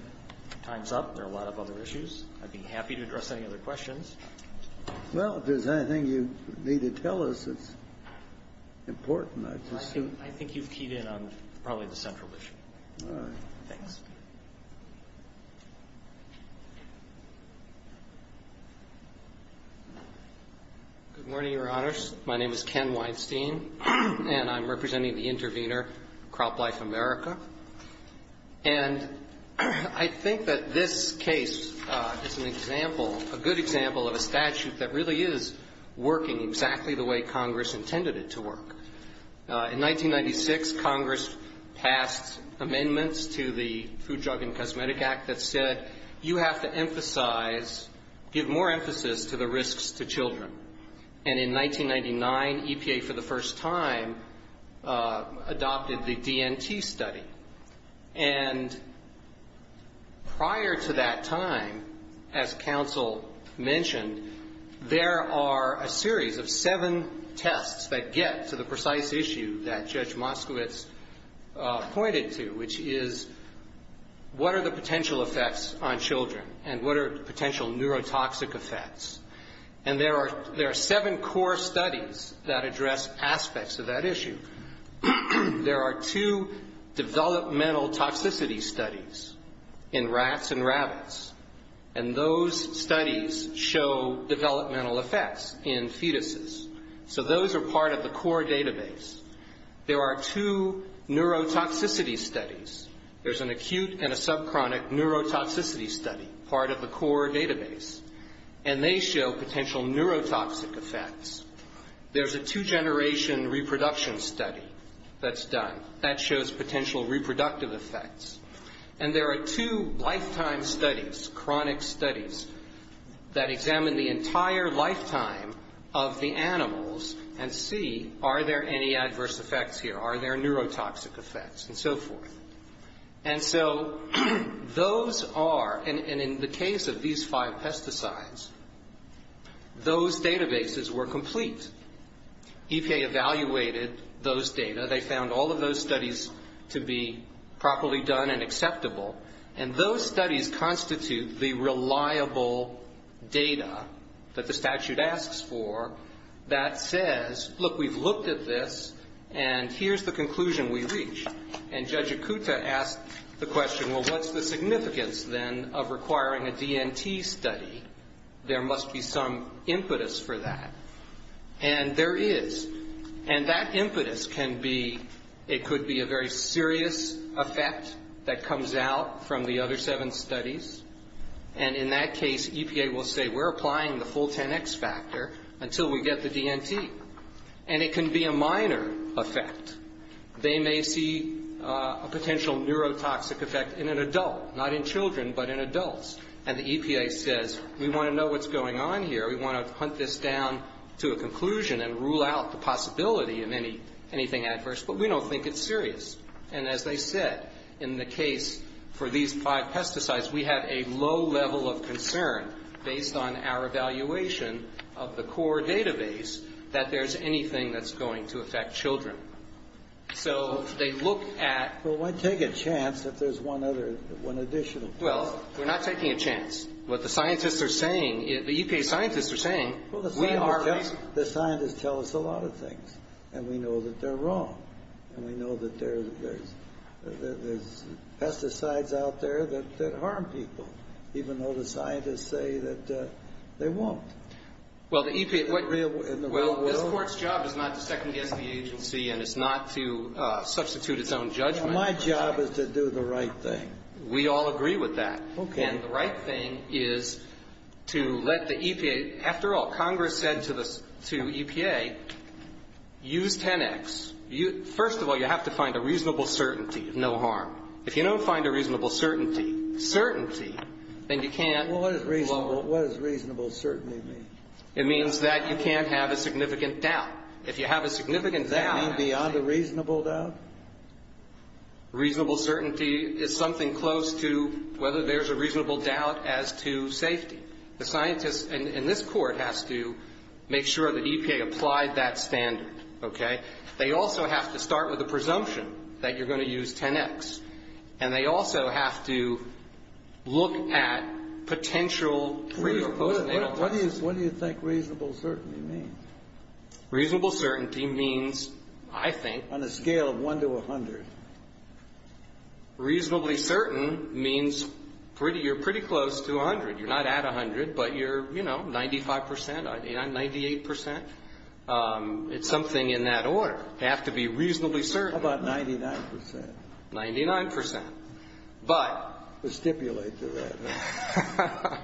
Time's up. There are a lot of other issues. I'd be happy to address any other questions. Well, if there's anything you need to tell us, it's important, I presume. I think you keyed in on probably the central issue. All right. Thanks. Good morning, Your Honors. My name is Ken Weinstein, and I'm representing the intervener, CropLife America. And I think that this case is an example, a good example of a statute that really is working exactly the way Congress intended it to work. In 1996, Congress passed amendments to the Food, Drug, and Cosmetic Act that said you have to emphasize, give more emphasis to the risks to children. And in 1999, EPA, for the first time, adopted the D&T study. And prior to that time, as counsel mentioned, there are a series of seven tests that get to the precise issue that Judge Moskowitz pointed to, which is what are the potential effects on children and what are the potential neurotoxic effects. And there are seven core studies that address aspects of that issue. There are two developmental toxicity studies in rats and rabbits, and those studies show developmental effects in fetuses. So those are part of the core database. There are two neurotoxicity studies. There's an acute and a subchronic neurotoxicity study, part of the core database. And they show potential neurotoxic effects. There's a two-generation reproduction study that's done. That shows potential reproductive effects. And there are two lifetime studies, chronic studies, that examine the entire lifetime of the animals and see are there any adverse effects here, are there neurotoxic effects, and so forth. And so those are, and in the case of these five pesticides, those databases were complete. EPA evaluated those data. They found all of those studies to be properly done and acceptable. And those studies constitute the reliable data that the statute asks for that says, look, we've looked at this, and here's the conclusion we reach. And Judge Ikuta asked the question, well, what's the significance, then, of requiring a DNT study? There must be some impetus for that. And there is. And that impetus can be, it could be a very serious effect that comes out from the other seven studies. And in that case, EPA will say, we're applying the full 10x factor until we get the DNT. And it can be a minor effect. They may see a potential neurotoxic effect in an adult, not in children, but in adults. And the EPA says, we want to know what's going on here. We want to hunt this down to a conclusion and rule out the possibility of anything adverse. But we don't think it's serious. And as I said, in the case for these five pesticides, we had a low level of concern based on our evaluation of the core database that there's anything that's going to affect children. So they looked at... So why take a chance if there's one other, one additional? Well, we're not taking a chance. What the scientists are saying is, the EPA scientists are saying, we are... The scientists tell us a lot of things. And we know that they're wrong. And we know that there's pesticides out there that harm people, even though the scientists say that they won't. Well, the EPA... Well, the court's job is not to second-guess the agency and it's not to substitute its own judgment. My job is to do the right thing. We all agree with that. And the right thing is to let the EPA... After all, Congress said to EPA, use 10x. First of all, you have to find a reasonable certainty, no harm. If you don't find a reasonable certainty, certainty, then you can't... What does reasonable certainty mean? It means that you can't have a significant doubt. If you have a significant doubt... Beyond a reasonable doubt? Reasonable certainty is something close to whether there's a reasonable doubt as to safety. The scientist in this court has to make sure the EPA applies that standard, okay? They also have to start with a presumption that you're going to use 10x. And they also have to look at potential... What do you think reasonable certainty means? Reasonable certainty means, I think... On a scale of 1 to 100. Reasonably certain means you're pretty close to 100. You're not at 100, but you're, you know, 95%, 98%. It's something in that order. You have to be reasonably certain. How about 99%? 99%. But... It stipulates it right now.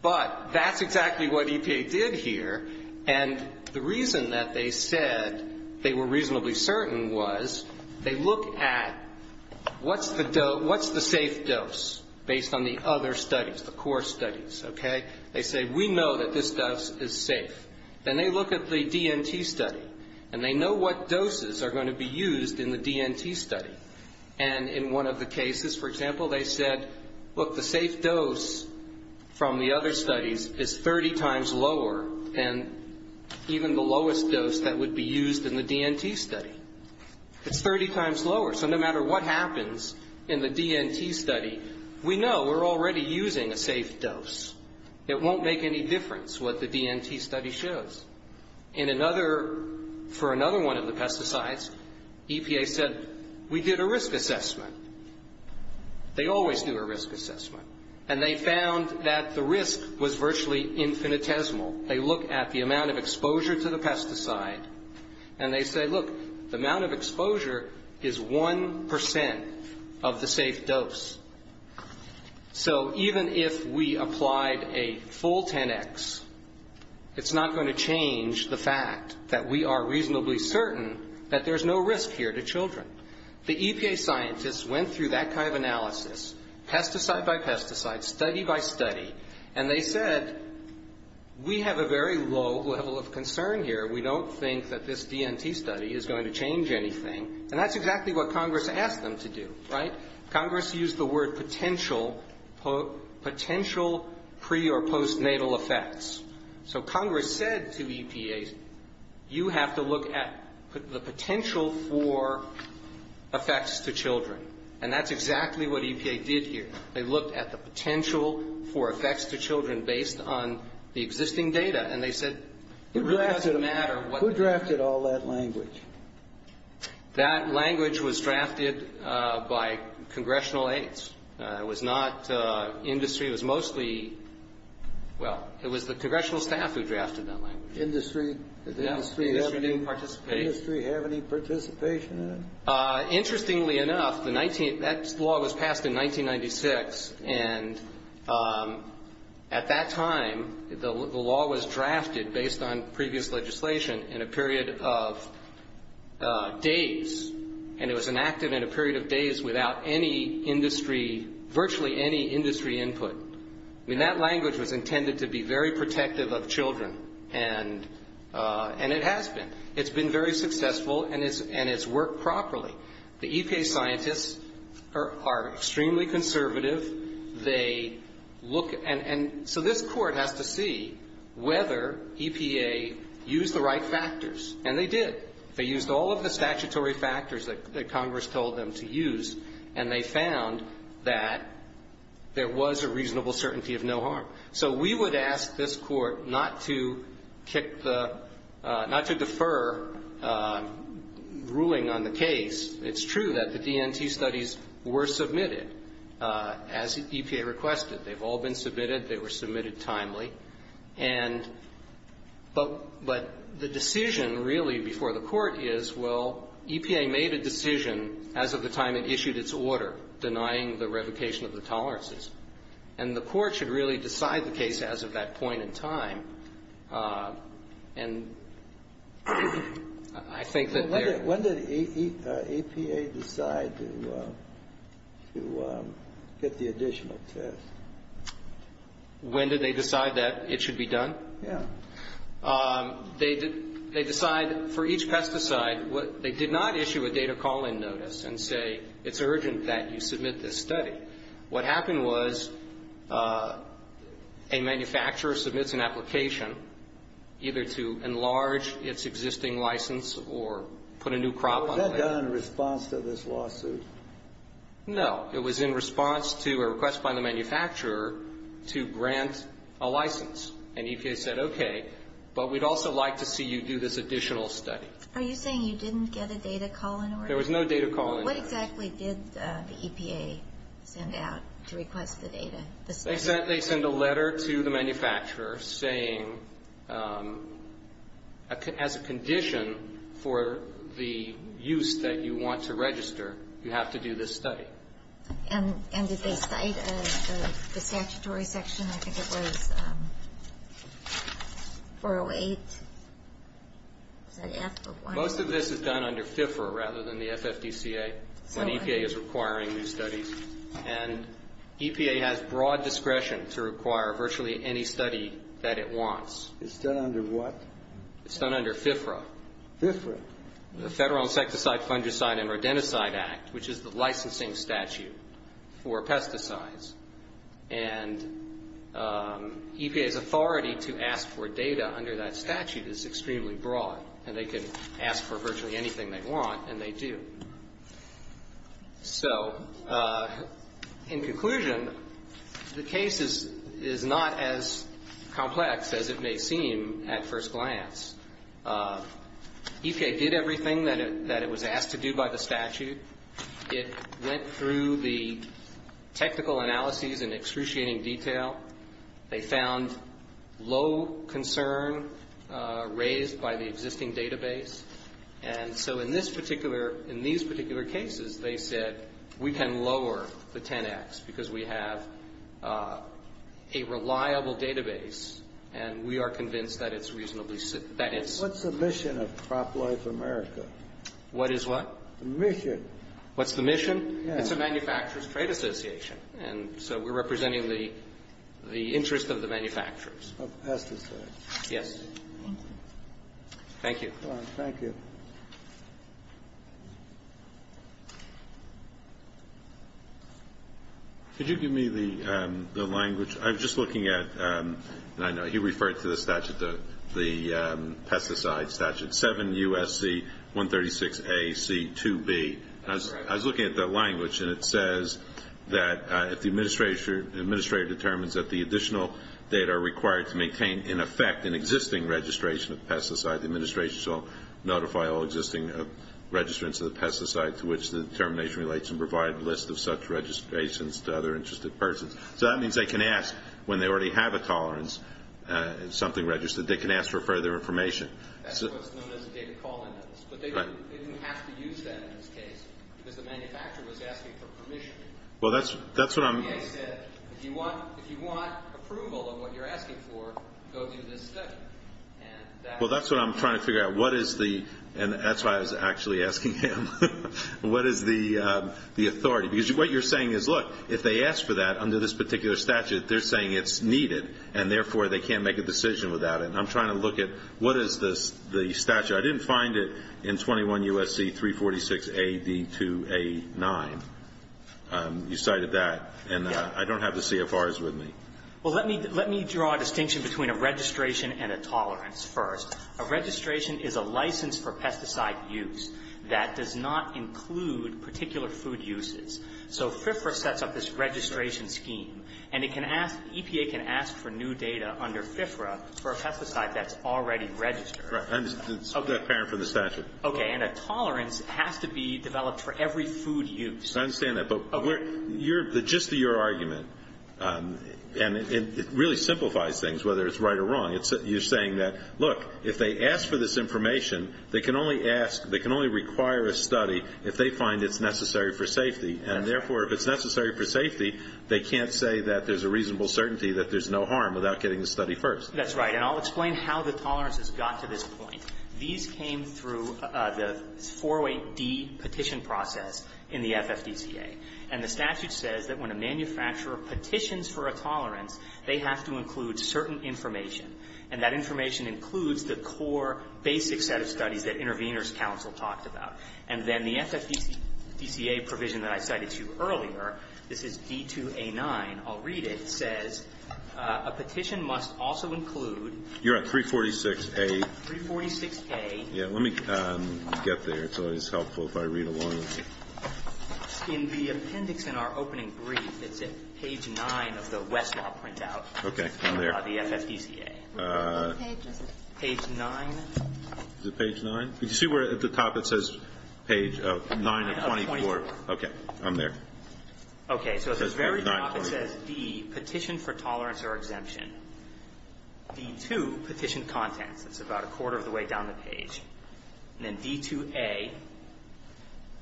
But that's exactly what EPA did here. And the reason that they said they were reasonably certain was they look at what's the safe dose based on the other studies, the core studies, okay? They say, we know that this dose is safe. And they look at the DNT study. And they know what doses are going to be used in the DNT study. And in one of the cases, for example, they said, look, the safe dose from the other studies is 30 times lower. And even the lowest dose that would be used in the DNT study. It's 30 times lower. So no matter what happens in the DNT study, we know we're already using a safe dose. It won't make any difference what the DNT study shows. In another... For another one of the pesticides, EPA said, we did a risk assessment. They always do a risk assessment. And they found that the risk was virtually infinitesimal. They look at the amount of exposure to the pesticide. And they say, look, the amount of exposure is 1% of the safe dose. So even if we applied a full 10X, it's not going to change the fact that we are reasonably certain that there's no risk here to children. The EPA scientists went through that kind of analysis, pesticide by pesticide, study by study. And they said, we have a very low level of concern here. We don't think that this DNT study is going to change anything. And that's exactly what Congress asked them to do. Congress used the word potential pre- or post-natal effects. So Congress said to EPA, you have to look at the potential for effects to children. And that's exactly what EPA did here. They looked at the potential for effects to children based on the existing data. Who drafted all that language? That language was drafted by Congressional aides. It was not industry. It was mostly the Congressional staff who drafted that language. Does industry have any participation in it? Interestingly enough, that law was passed in 1996 and at that time the law was drafted based on previous legislation in a period of days. And it was enacted in a period of days without any industry, virtually any industry input. That language was intended to be very protective of children. And it has been. It's been very successful and it's worked properly. The EPA scientists are extremely conservative. They look and so this court has to see whether EPA used the right factors. And they did. They used all of the statutory factors that Congress told them to use and they found that there was a reasonable certainty of no harm. So we would ask this court not to kick the not to defer ruling on the case. It's true that the DNT studies were submitted as EPA requested. They've all been submitted. They were submitted timely. But the decision really before the court is well, EPA made a decision as of the time it issued its order denying the revocation of the tolerances. And the court should really decide the case as of that point in time. And I think that there When did EPA decide to fit the additional test? When did they decide that it should be done? They decide for each pesticide they did not issue a data call-in notice and say it's urgent that you submit this study. What happened was a manufacturer submits an application either to enlarge its existing license or put a new crop on the land. Was that done in response to this lawsuit? No. It was in response to a request by the manufacturer to grant a license. And EPA said okay, but we'd also like to see you do this additional study. Are you saying you didn't get a data call-in order? There was no data call-in order. What exactly did the EPA send out to request the data? They sent a letter to the manufacturer saying as a condition for the use that you want to register, you have to do this study. And did they cite the statutory section? I think it was 408 Most of this is done under FFFR rather than the FFPCA. When EPA is requiring new studies and EPA has broad discretion to require virtually any study that it wants. It's done under what? It's done under FFRA. The Federal Insecticide, Fungicide, and Rodenticide Act, which is the licensing statute for pesticides. And EPA's authority to ask for data under that statute is extremely broad. And they can ask for virtually anything they want and they do. So in conclusion, the case is not as complex as it may seem at first glance. EPA did everything that it was asked to do by the statute. It went through the technical analyses in excruciating detail. They found low concern raised by the existing database. And so in these particular cases they said we can lower the 10x because we have a reliable database and we are convinced that it's reasonably safe. What's the mission of CropWise America? What is what? The mission. What's the mission? It's a manufacturers trade association and so we're representing the interest of the manufacturers. Of pesticides. Yes. Thank you. Thank you. Could you give me the language? I'm just looking at, and I know he referred to the pesticide statute 7 USC 136 A C 2 B. I was looking at the language and it says that if the administrator determines that the additional data are required to maintain in effect an existing registration of pesticides, the administration shall notify all existing registrants of the pesticide to which the determination relates and provide a list of such registrations to other interested persons. So that means they can ask when they already have a tolerance something registered, they can ask for further information. But they didn't have to use that in this case. The manufacturer was asking for permission. That's what I'm... If you want approval of what you're asking for, go to the district. Well, that's what I'm trying to figure out. And that's why I was actually asking him. What is the authority? Because what you're saying is look, if they ask for that under this particular statute, they're saying it's needed and therefore they can't make a decision without it. I'm trying to look at what is the statute. I didn't find it in 21 USC 346 A B 2 A 9. You cited that. I don't have the CFRs with me. Let me draw a distinction between a registration and a tolerance first. A registration is a license for pesticide use that does not include particular food uses. So FFRA sets up this registration scheme and EPA can ask for new data under FFRA for a pesticide that's already registered. That's apparent from the statute. And a tolerance has to be developed for every food use. I understand that. But just to your argument and it really simplifies things whether it's right or wrong. You're saying that look, if they ask for this information, they can only ask, they can only require a study if they find it necessary for safety. And therefore if it's necessary for safety, they can't say that there's a reasonable certainty that there's no harm without getting the study first. That's right. And I'll explain how the tolerances got to this point. These came through the four-way D petition process in the FFPCA. And the statute says that when a manufacturer petitions for a tolerance, they have to include certain information. And that information includes the core basic set of studies that Intervenors Council talked about. And then the FFPCA provision that I cited to you earlier, this is D2A9, I'll read it, says a petition must also include... You're on 346A. 346A. Yeah, let me get there. It's helpful if I read along. In the appendix in our opening brief, it's at page 9 of the Westlaw printout. The FFPCA. Page 9. Is it page 9? Did you see where at the top it says page 9 of 24? Okay. I'm there. Okay, so at the very top it says D, petition for tolerance or exemption. D2, petition content. It's about a quarter of the way down the page. And then D2A,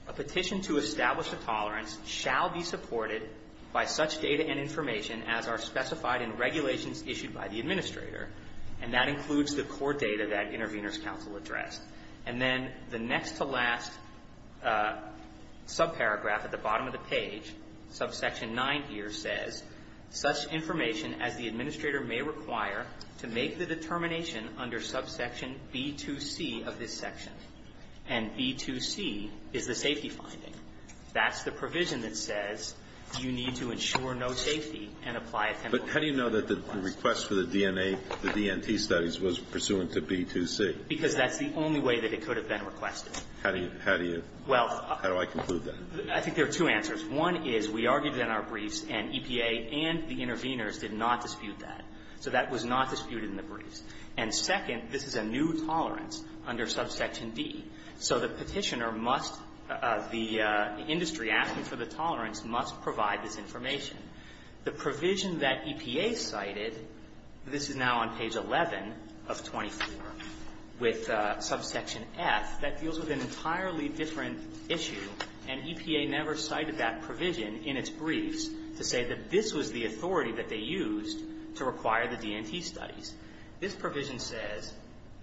a petition to establish a tolerance shall be supported by such data and information as are specified in regulations issued by the administrator. And that includes the core data that Intervenors Council addressed. And then the next to last subparagraph at the bottom of the page, subsection 9 here says, such information as the administrator may require to make the determination under subsection B2C of this section. And B2C is the safety finding. That's the provision that says you need to ensure no safety and apply a temporary... But how do you know that the request for the DNA, the DNP studies was pursuant to B2C? Because that's the only way that it could have been requested. How do you... How do I conclude that? I think there are two answers. One is we argued in our briefs and EPA and the intervenors did not dispute that. So that was not disputed in the briefs. And second, this is a new tolerance under subsection D. So the petitioner must... The industry acting for the tolerance must provide this information. The provision that EPA cited, this is now on page 11 of 24, with subsection F, that deals with an entirely different issue. And EPA never cited that provision in its briefs to say that this was the authority that they used to require the DNP studies. This provision says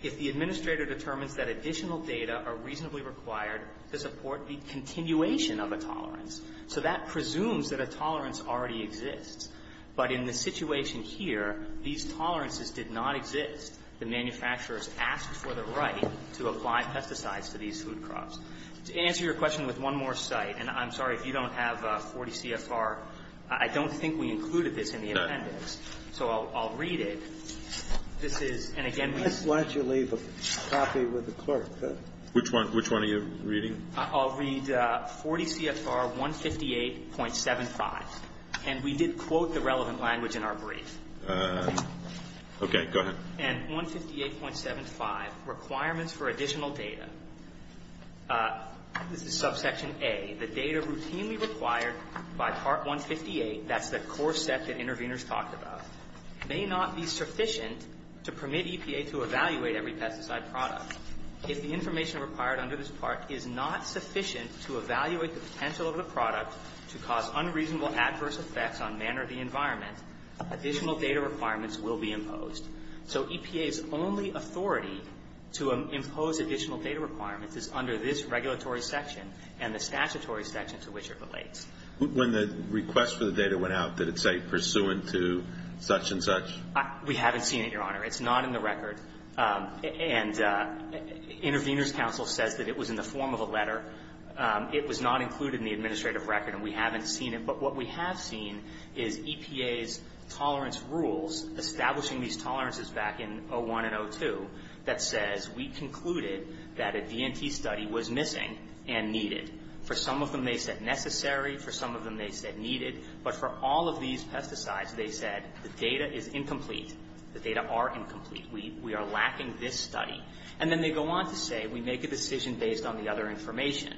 if the administrator determines that additional data are reasonably required to support the continuation of a tolerance. So that presumes that a tolerance already exists. But in the situation here, these tolerances did not exist. The manufacturers asked for the right to apply pesticides to these food crops. To answer your question with one more cite, and I'm sorry if you don't have 40 CFR, I don't think we included this in the appendix. So I'll read it. This is, and again... Why don't you leave a copy with the clerk? Which one are you reading? I'll read 40 CFR 158.75. And we did quote the relevant language in our briefs. Okay, go ahead. And 158.75, requirements for additional data. This is EPA routinely required by Part 158, that's the core steps that interveners talked about, may not be sufficient to permit EPA to evaluate every pesticide product. If the information required under this part is not sufficient to evaluate the potential of the product to cause unreasonable adverse effects on manner of the environment, additional data requirements will be imposed. So EPA's only authority to impose additional data requirements is under this statutory section to which it relates. When the request for the data went out, did it say, pursuant to such and such? We haven't seen it, Your Honor. It's not in the record. And Interveners Council said that it was in the form of a letter. It was not included in the administrative record, and we haven't seen it. But what we have seen is EPA's tolerance rules, establishing these tolerances back in 01 and 02, that says we concluded that a DNT study was missing and needed. For some of them, they said necessary. For some of them, they said needed. But for all of these pesticides, they said the data is incomplete. The data are incomplete. We are lacking this study. And then they go on to say we make a decision based on the other information.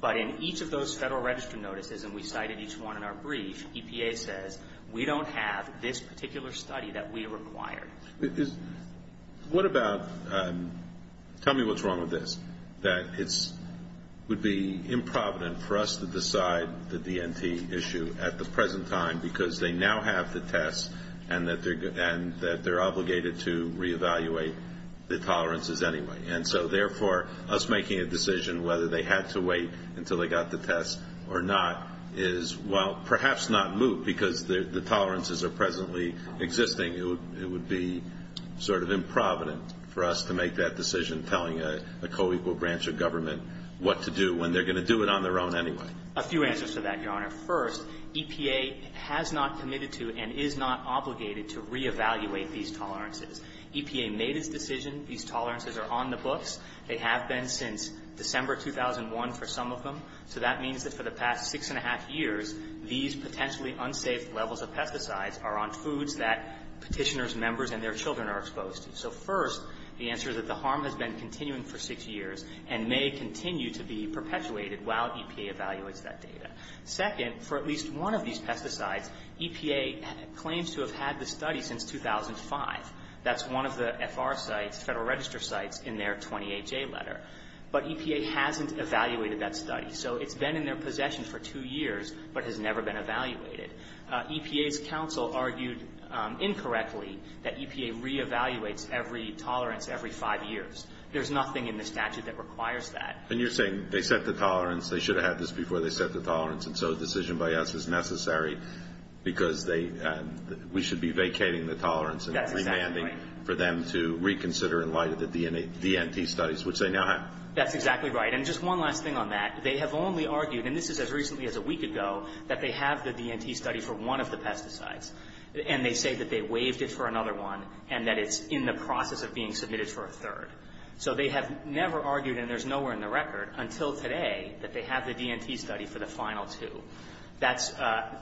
But in each of those Federal Register notices, and we cited each one in our brief, EPA says we don't have this particular study that we required. What about tell me what's wrong with this? That it would be improvident for us to decide the DNT issue at the present time because they now have to test and that they're obligated to reevaluate the tolerances anyway. And so therefore, us making a decision whether they have to wait until they got the test or not is, well, perhaps not moot because the tolerances are presently existing. It would be sort of improvident for us to make that decision telling a co-equal branch of government what to do when they're going to do it on their own anyway. A few answers to that, Your Honor. First, EPA has not committed to and is not obligated to reevaluate these tolerances. EPA made a decision. These tolerances are on the books. They have been since December 2001 for some of them. So that means that for the past six and a half years, these potentially unsafe levels of pesticides are on foods that petitioners, members, and their children are exposed to. So first, the answer is that the harm has been continuing for six years and may continue to be perpetuated while EPA evaluates that data. Second, for at least one of these pesticides, EPA claims to have had the study since 2005. That's one of the FR sites, Federal Register sites, in their 28-J letter. But EPA hasn't evaluated that study. So it's been in their possession for two years but has never been evaluated. EPA's counsel argued incorrectly that EPA reevaluates every tolerance every five years. There's nothing in the statute that requires that. And you're saying they set the tolerance, they should have had this before they set the tolerance, and so a decision by us is necessary because we should be vacating the tolerance and remanding for them to reconsider in light of the VNT studies, which they now have. That's exactly right. And just one last thing on that. They have only argued, and this is as recently as a DNT study for one of the pesticides, and they say that they waived it for another one and that it's in the process of being submitted for a third. So they have never argued, and there's nowhere in the record until today, that they have the DNT study for the final two. That's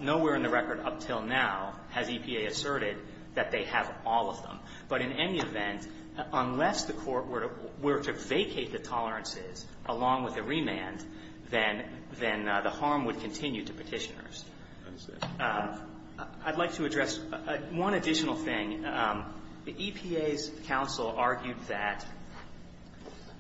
nowhere in the record up till now has EPA asserted that they have all of them. But in any event, unless the court were to vacate the tolerances along with the remand, then the harm would continue to petitioners. I'd like to address one additional thing. The EPA's counsel argued that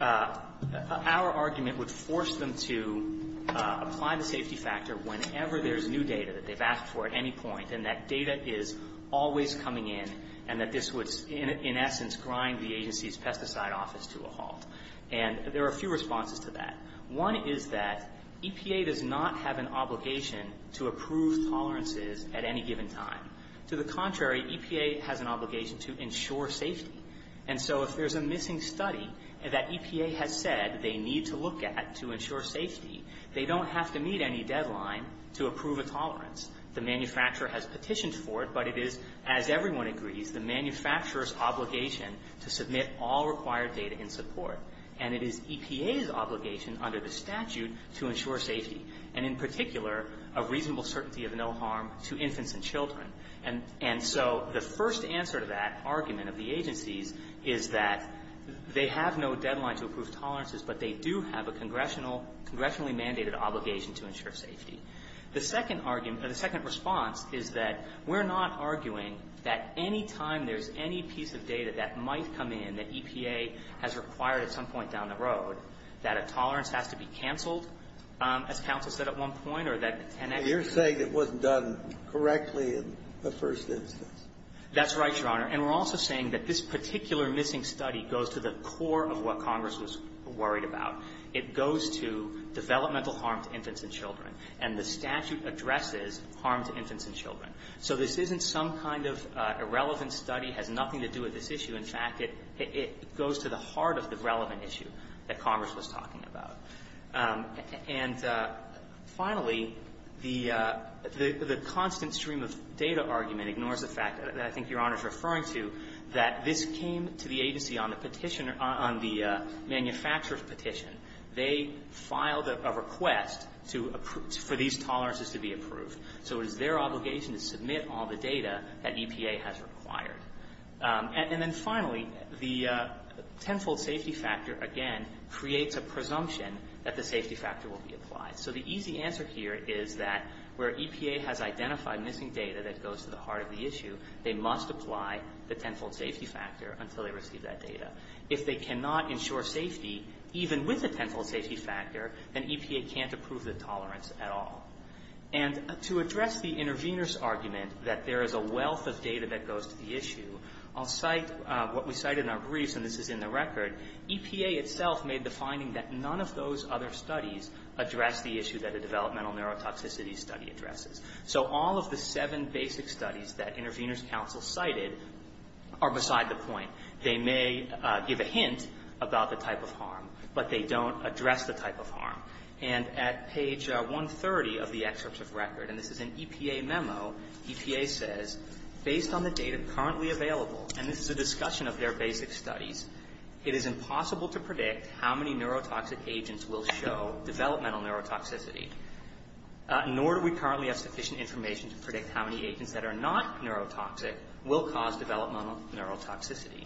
our argument would force them to apply the safety factor whenever there's new data that they've asked for at any point and that data is always coming in, and that this would in essence grind the agency's pesticide office to a halt. And there are a few responses to that. One is that EPA does not have an obligation to approve tolerances at any given time. To the contrary, EPA has an obligation to ensure safety. And so if there's a missing study that EPA has said they need to look at to ensure safety, they don't have to meet any deadline to approve a tolerance. The manufacturer has petitioned for it, but it is, as everyone agrees, the manufacturer's obligation to submit all required data in support. And it is EPA's obligation, under the statute, to ensure safety. And in particular, a reasonable certainty of no harm to infants and children. And so the first answer to that argument of the agency is that they have no deadline to approve tolerances, but they do have a congressionally mandated obligation to ensure safety. The second response is that we're not arguing that any time there's any piece of data that might come in that road, that a tolerance has to be canceled, as counsel said at one point, or that... You're saying it wasn't done correctly in the first instance. That's right, Your Honor. And we're also saying that this particular missing study goes to the core of what Congress was worried about. It goes to developmental harm to infants and children. And the statute addresses harm to infants and children. So this isn't some kind of irrelevant study. It has nothing to do with this issue. In fact, it goes to the heart of the relevant issue that Congress was talking about. And finally, the constant stream of data argument ignores the fact that I think Your Honor is referring to, that this came to the agency on the petition, on the manufacturer's petition. They filed a request for these tolerances to be approved. So it is their obligation to submit all the data that EPA has required. And then finally, the tenfold safety factor again creates a presumption that the safety factor will be applied. So the easy answer here is that where EPA has identified missing data that goes to the heart of the issue, they must apply the tenfold safety factor until they receive that data. If they cannot ensure safety even with the tenfold safety factor, then EPA can't approve the tolerance at all. And to address the intervener's argument that there is a wealth of data that goes to the issue, I'll cite what we cited in our briefs, and this is in the record. EPA itself made the finding that none of those other studies address the issue that a developmental neurotoxicity study addresses. So all of the seven basic studies that intervener's counsel cited are beside the point. They may give a hint about the type of harm, but they don't address the type of harm. And at page 130 of the excerpt of record, and this is an EPA memo, EPA says, based on the data currently available, and this is a discussion of their basic studies, it is impossible to predict how many neurotoxic agents will show developmental neurotoxicity, nor do we currently have sufficient information to predict how many agents that are not neurotoxic will cause developmental neurotoxicity.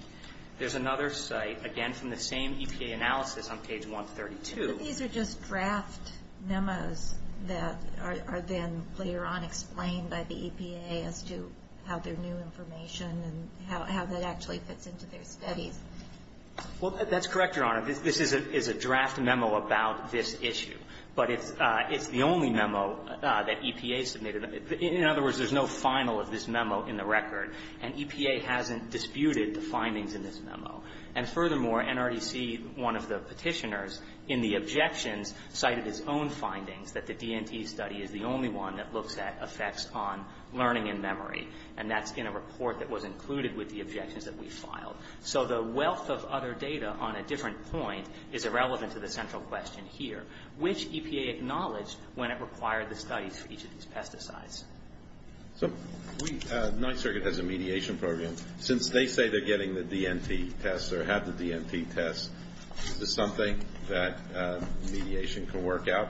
There's another cite, again from the same EPA analysis on page 132. These are just draft memos that are then later on explained by the EPA as to how their new information and how that actually fits into their study. Well, that's correct, Your Honor. This is a draft memo about this issue. But it's the only memo that EPA submitted. In other words, there's no final of this memo in the record, and EPA hasn't disputed the findings in this memo. And furthermore, NREC, one of the petitioners, in the objection, cited its own findings that the DNP study is the only one that looks at effects on learning and memory. And that's in a report that was included with the objections that we filed. So the wealth of other data on a different point is irrelevant to the central question here. Which EPA acknowledged when it required the study for each of these pesticides? So, we, the 9th Circuit has a mediation program. Since they say they're getting the DNP test or have the DNP test, is this something that mediation can work out?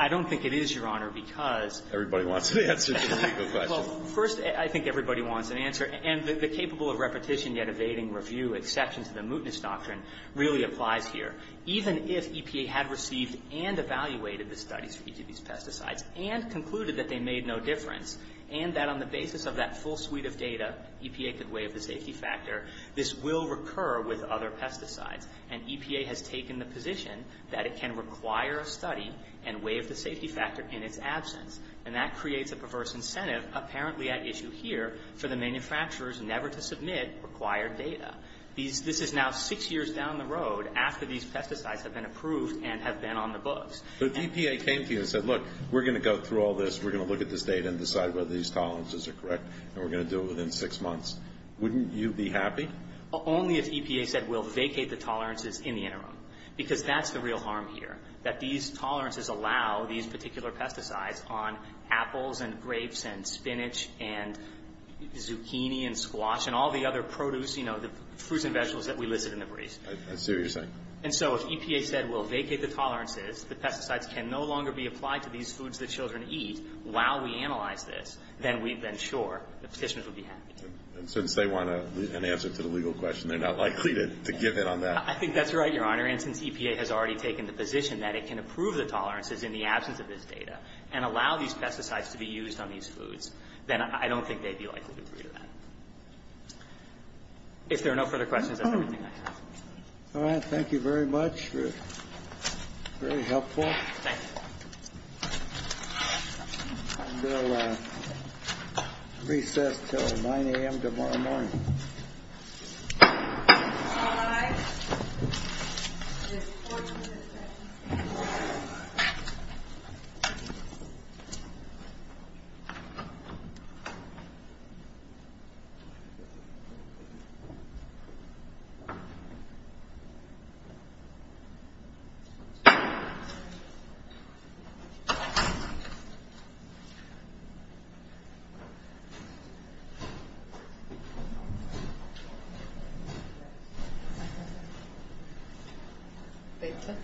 I don't think it is, Your Honor, because Everybody wants an answer to the question. Well, first, I think everybody wants an answer. And the capable of repetition yet evading review exception to the mootness doctrine really applies here. Even if EPA had received and evaluated the studies for each of these pesticides, and concluded that they made no difference, and that on the basis of that full suite of data, EPA could weigh up the safety factor, this will recur with other pesticides. And EPA has taken the position that it can require a study and weigh up the safety factor in its absence. And that creates a perverse incentive apparently at issue here, for the manufacturers never to submit required data. This is now 6 years down the road after these pesticides have been approved and have been on the books. So if EPA came to you and said, look, we're going to go through all this, we're going to look at this data and decide whether these columns are correct, and we're going to do it within 6 months, wouldn't you be happy? Only if EPA said, we'll vacate the tolerances in the interim. Because that's the real harm here. That these tolerances allow these particular pesticides on apples, and grapes, and spinach, and zucchini, and squash, and all the other produce, you know, the fruits and vegetables that we listed in the briefs. Seriously. And so if EPA said, we'll vacate the tolerances, the pesticides can no longer be applied to these foods that children eat, while we analyze this, then we've been sure the petitioners would be happy. And since they want an answer to the legal question, they're not likely to give in on that. I think that's right, Your Honor. And since EPA has already taken the position that it can approve the tolerances in the absence of this data, and allow these pesticides to be used on these foods, then I don't think they'd be likely to agree to that. If there are no further questions... Well, thank you very much. Very helpful. Thank you. I will recess until 9 a.m. tomorrow morning. Thank you..........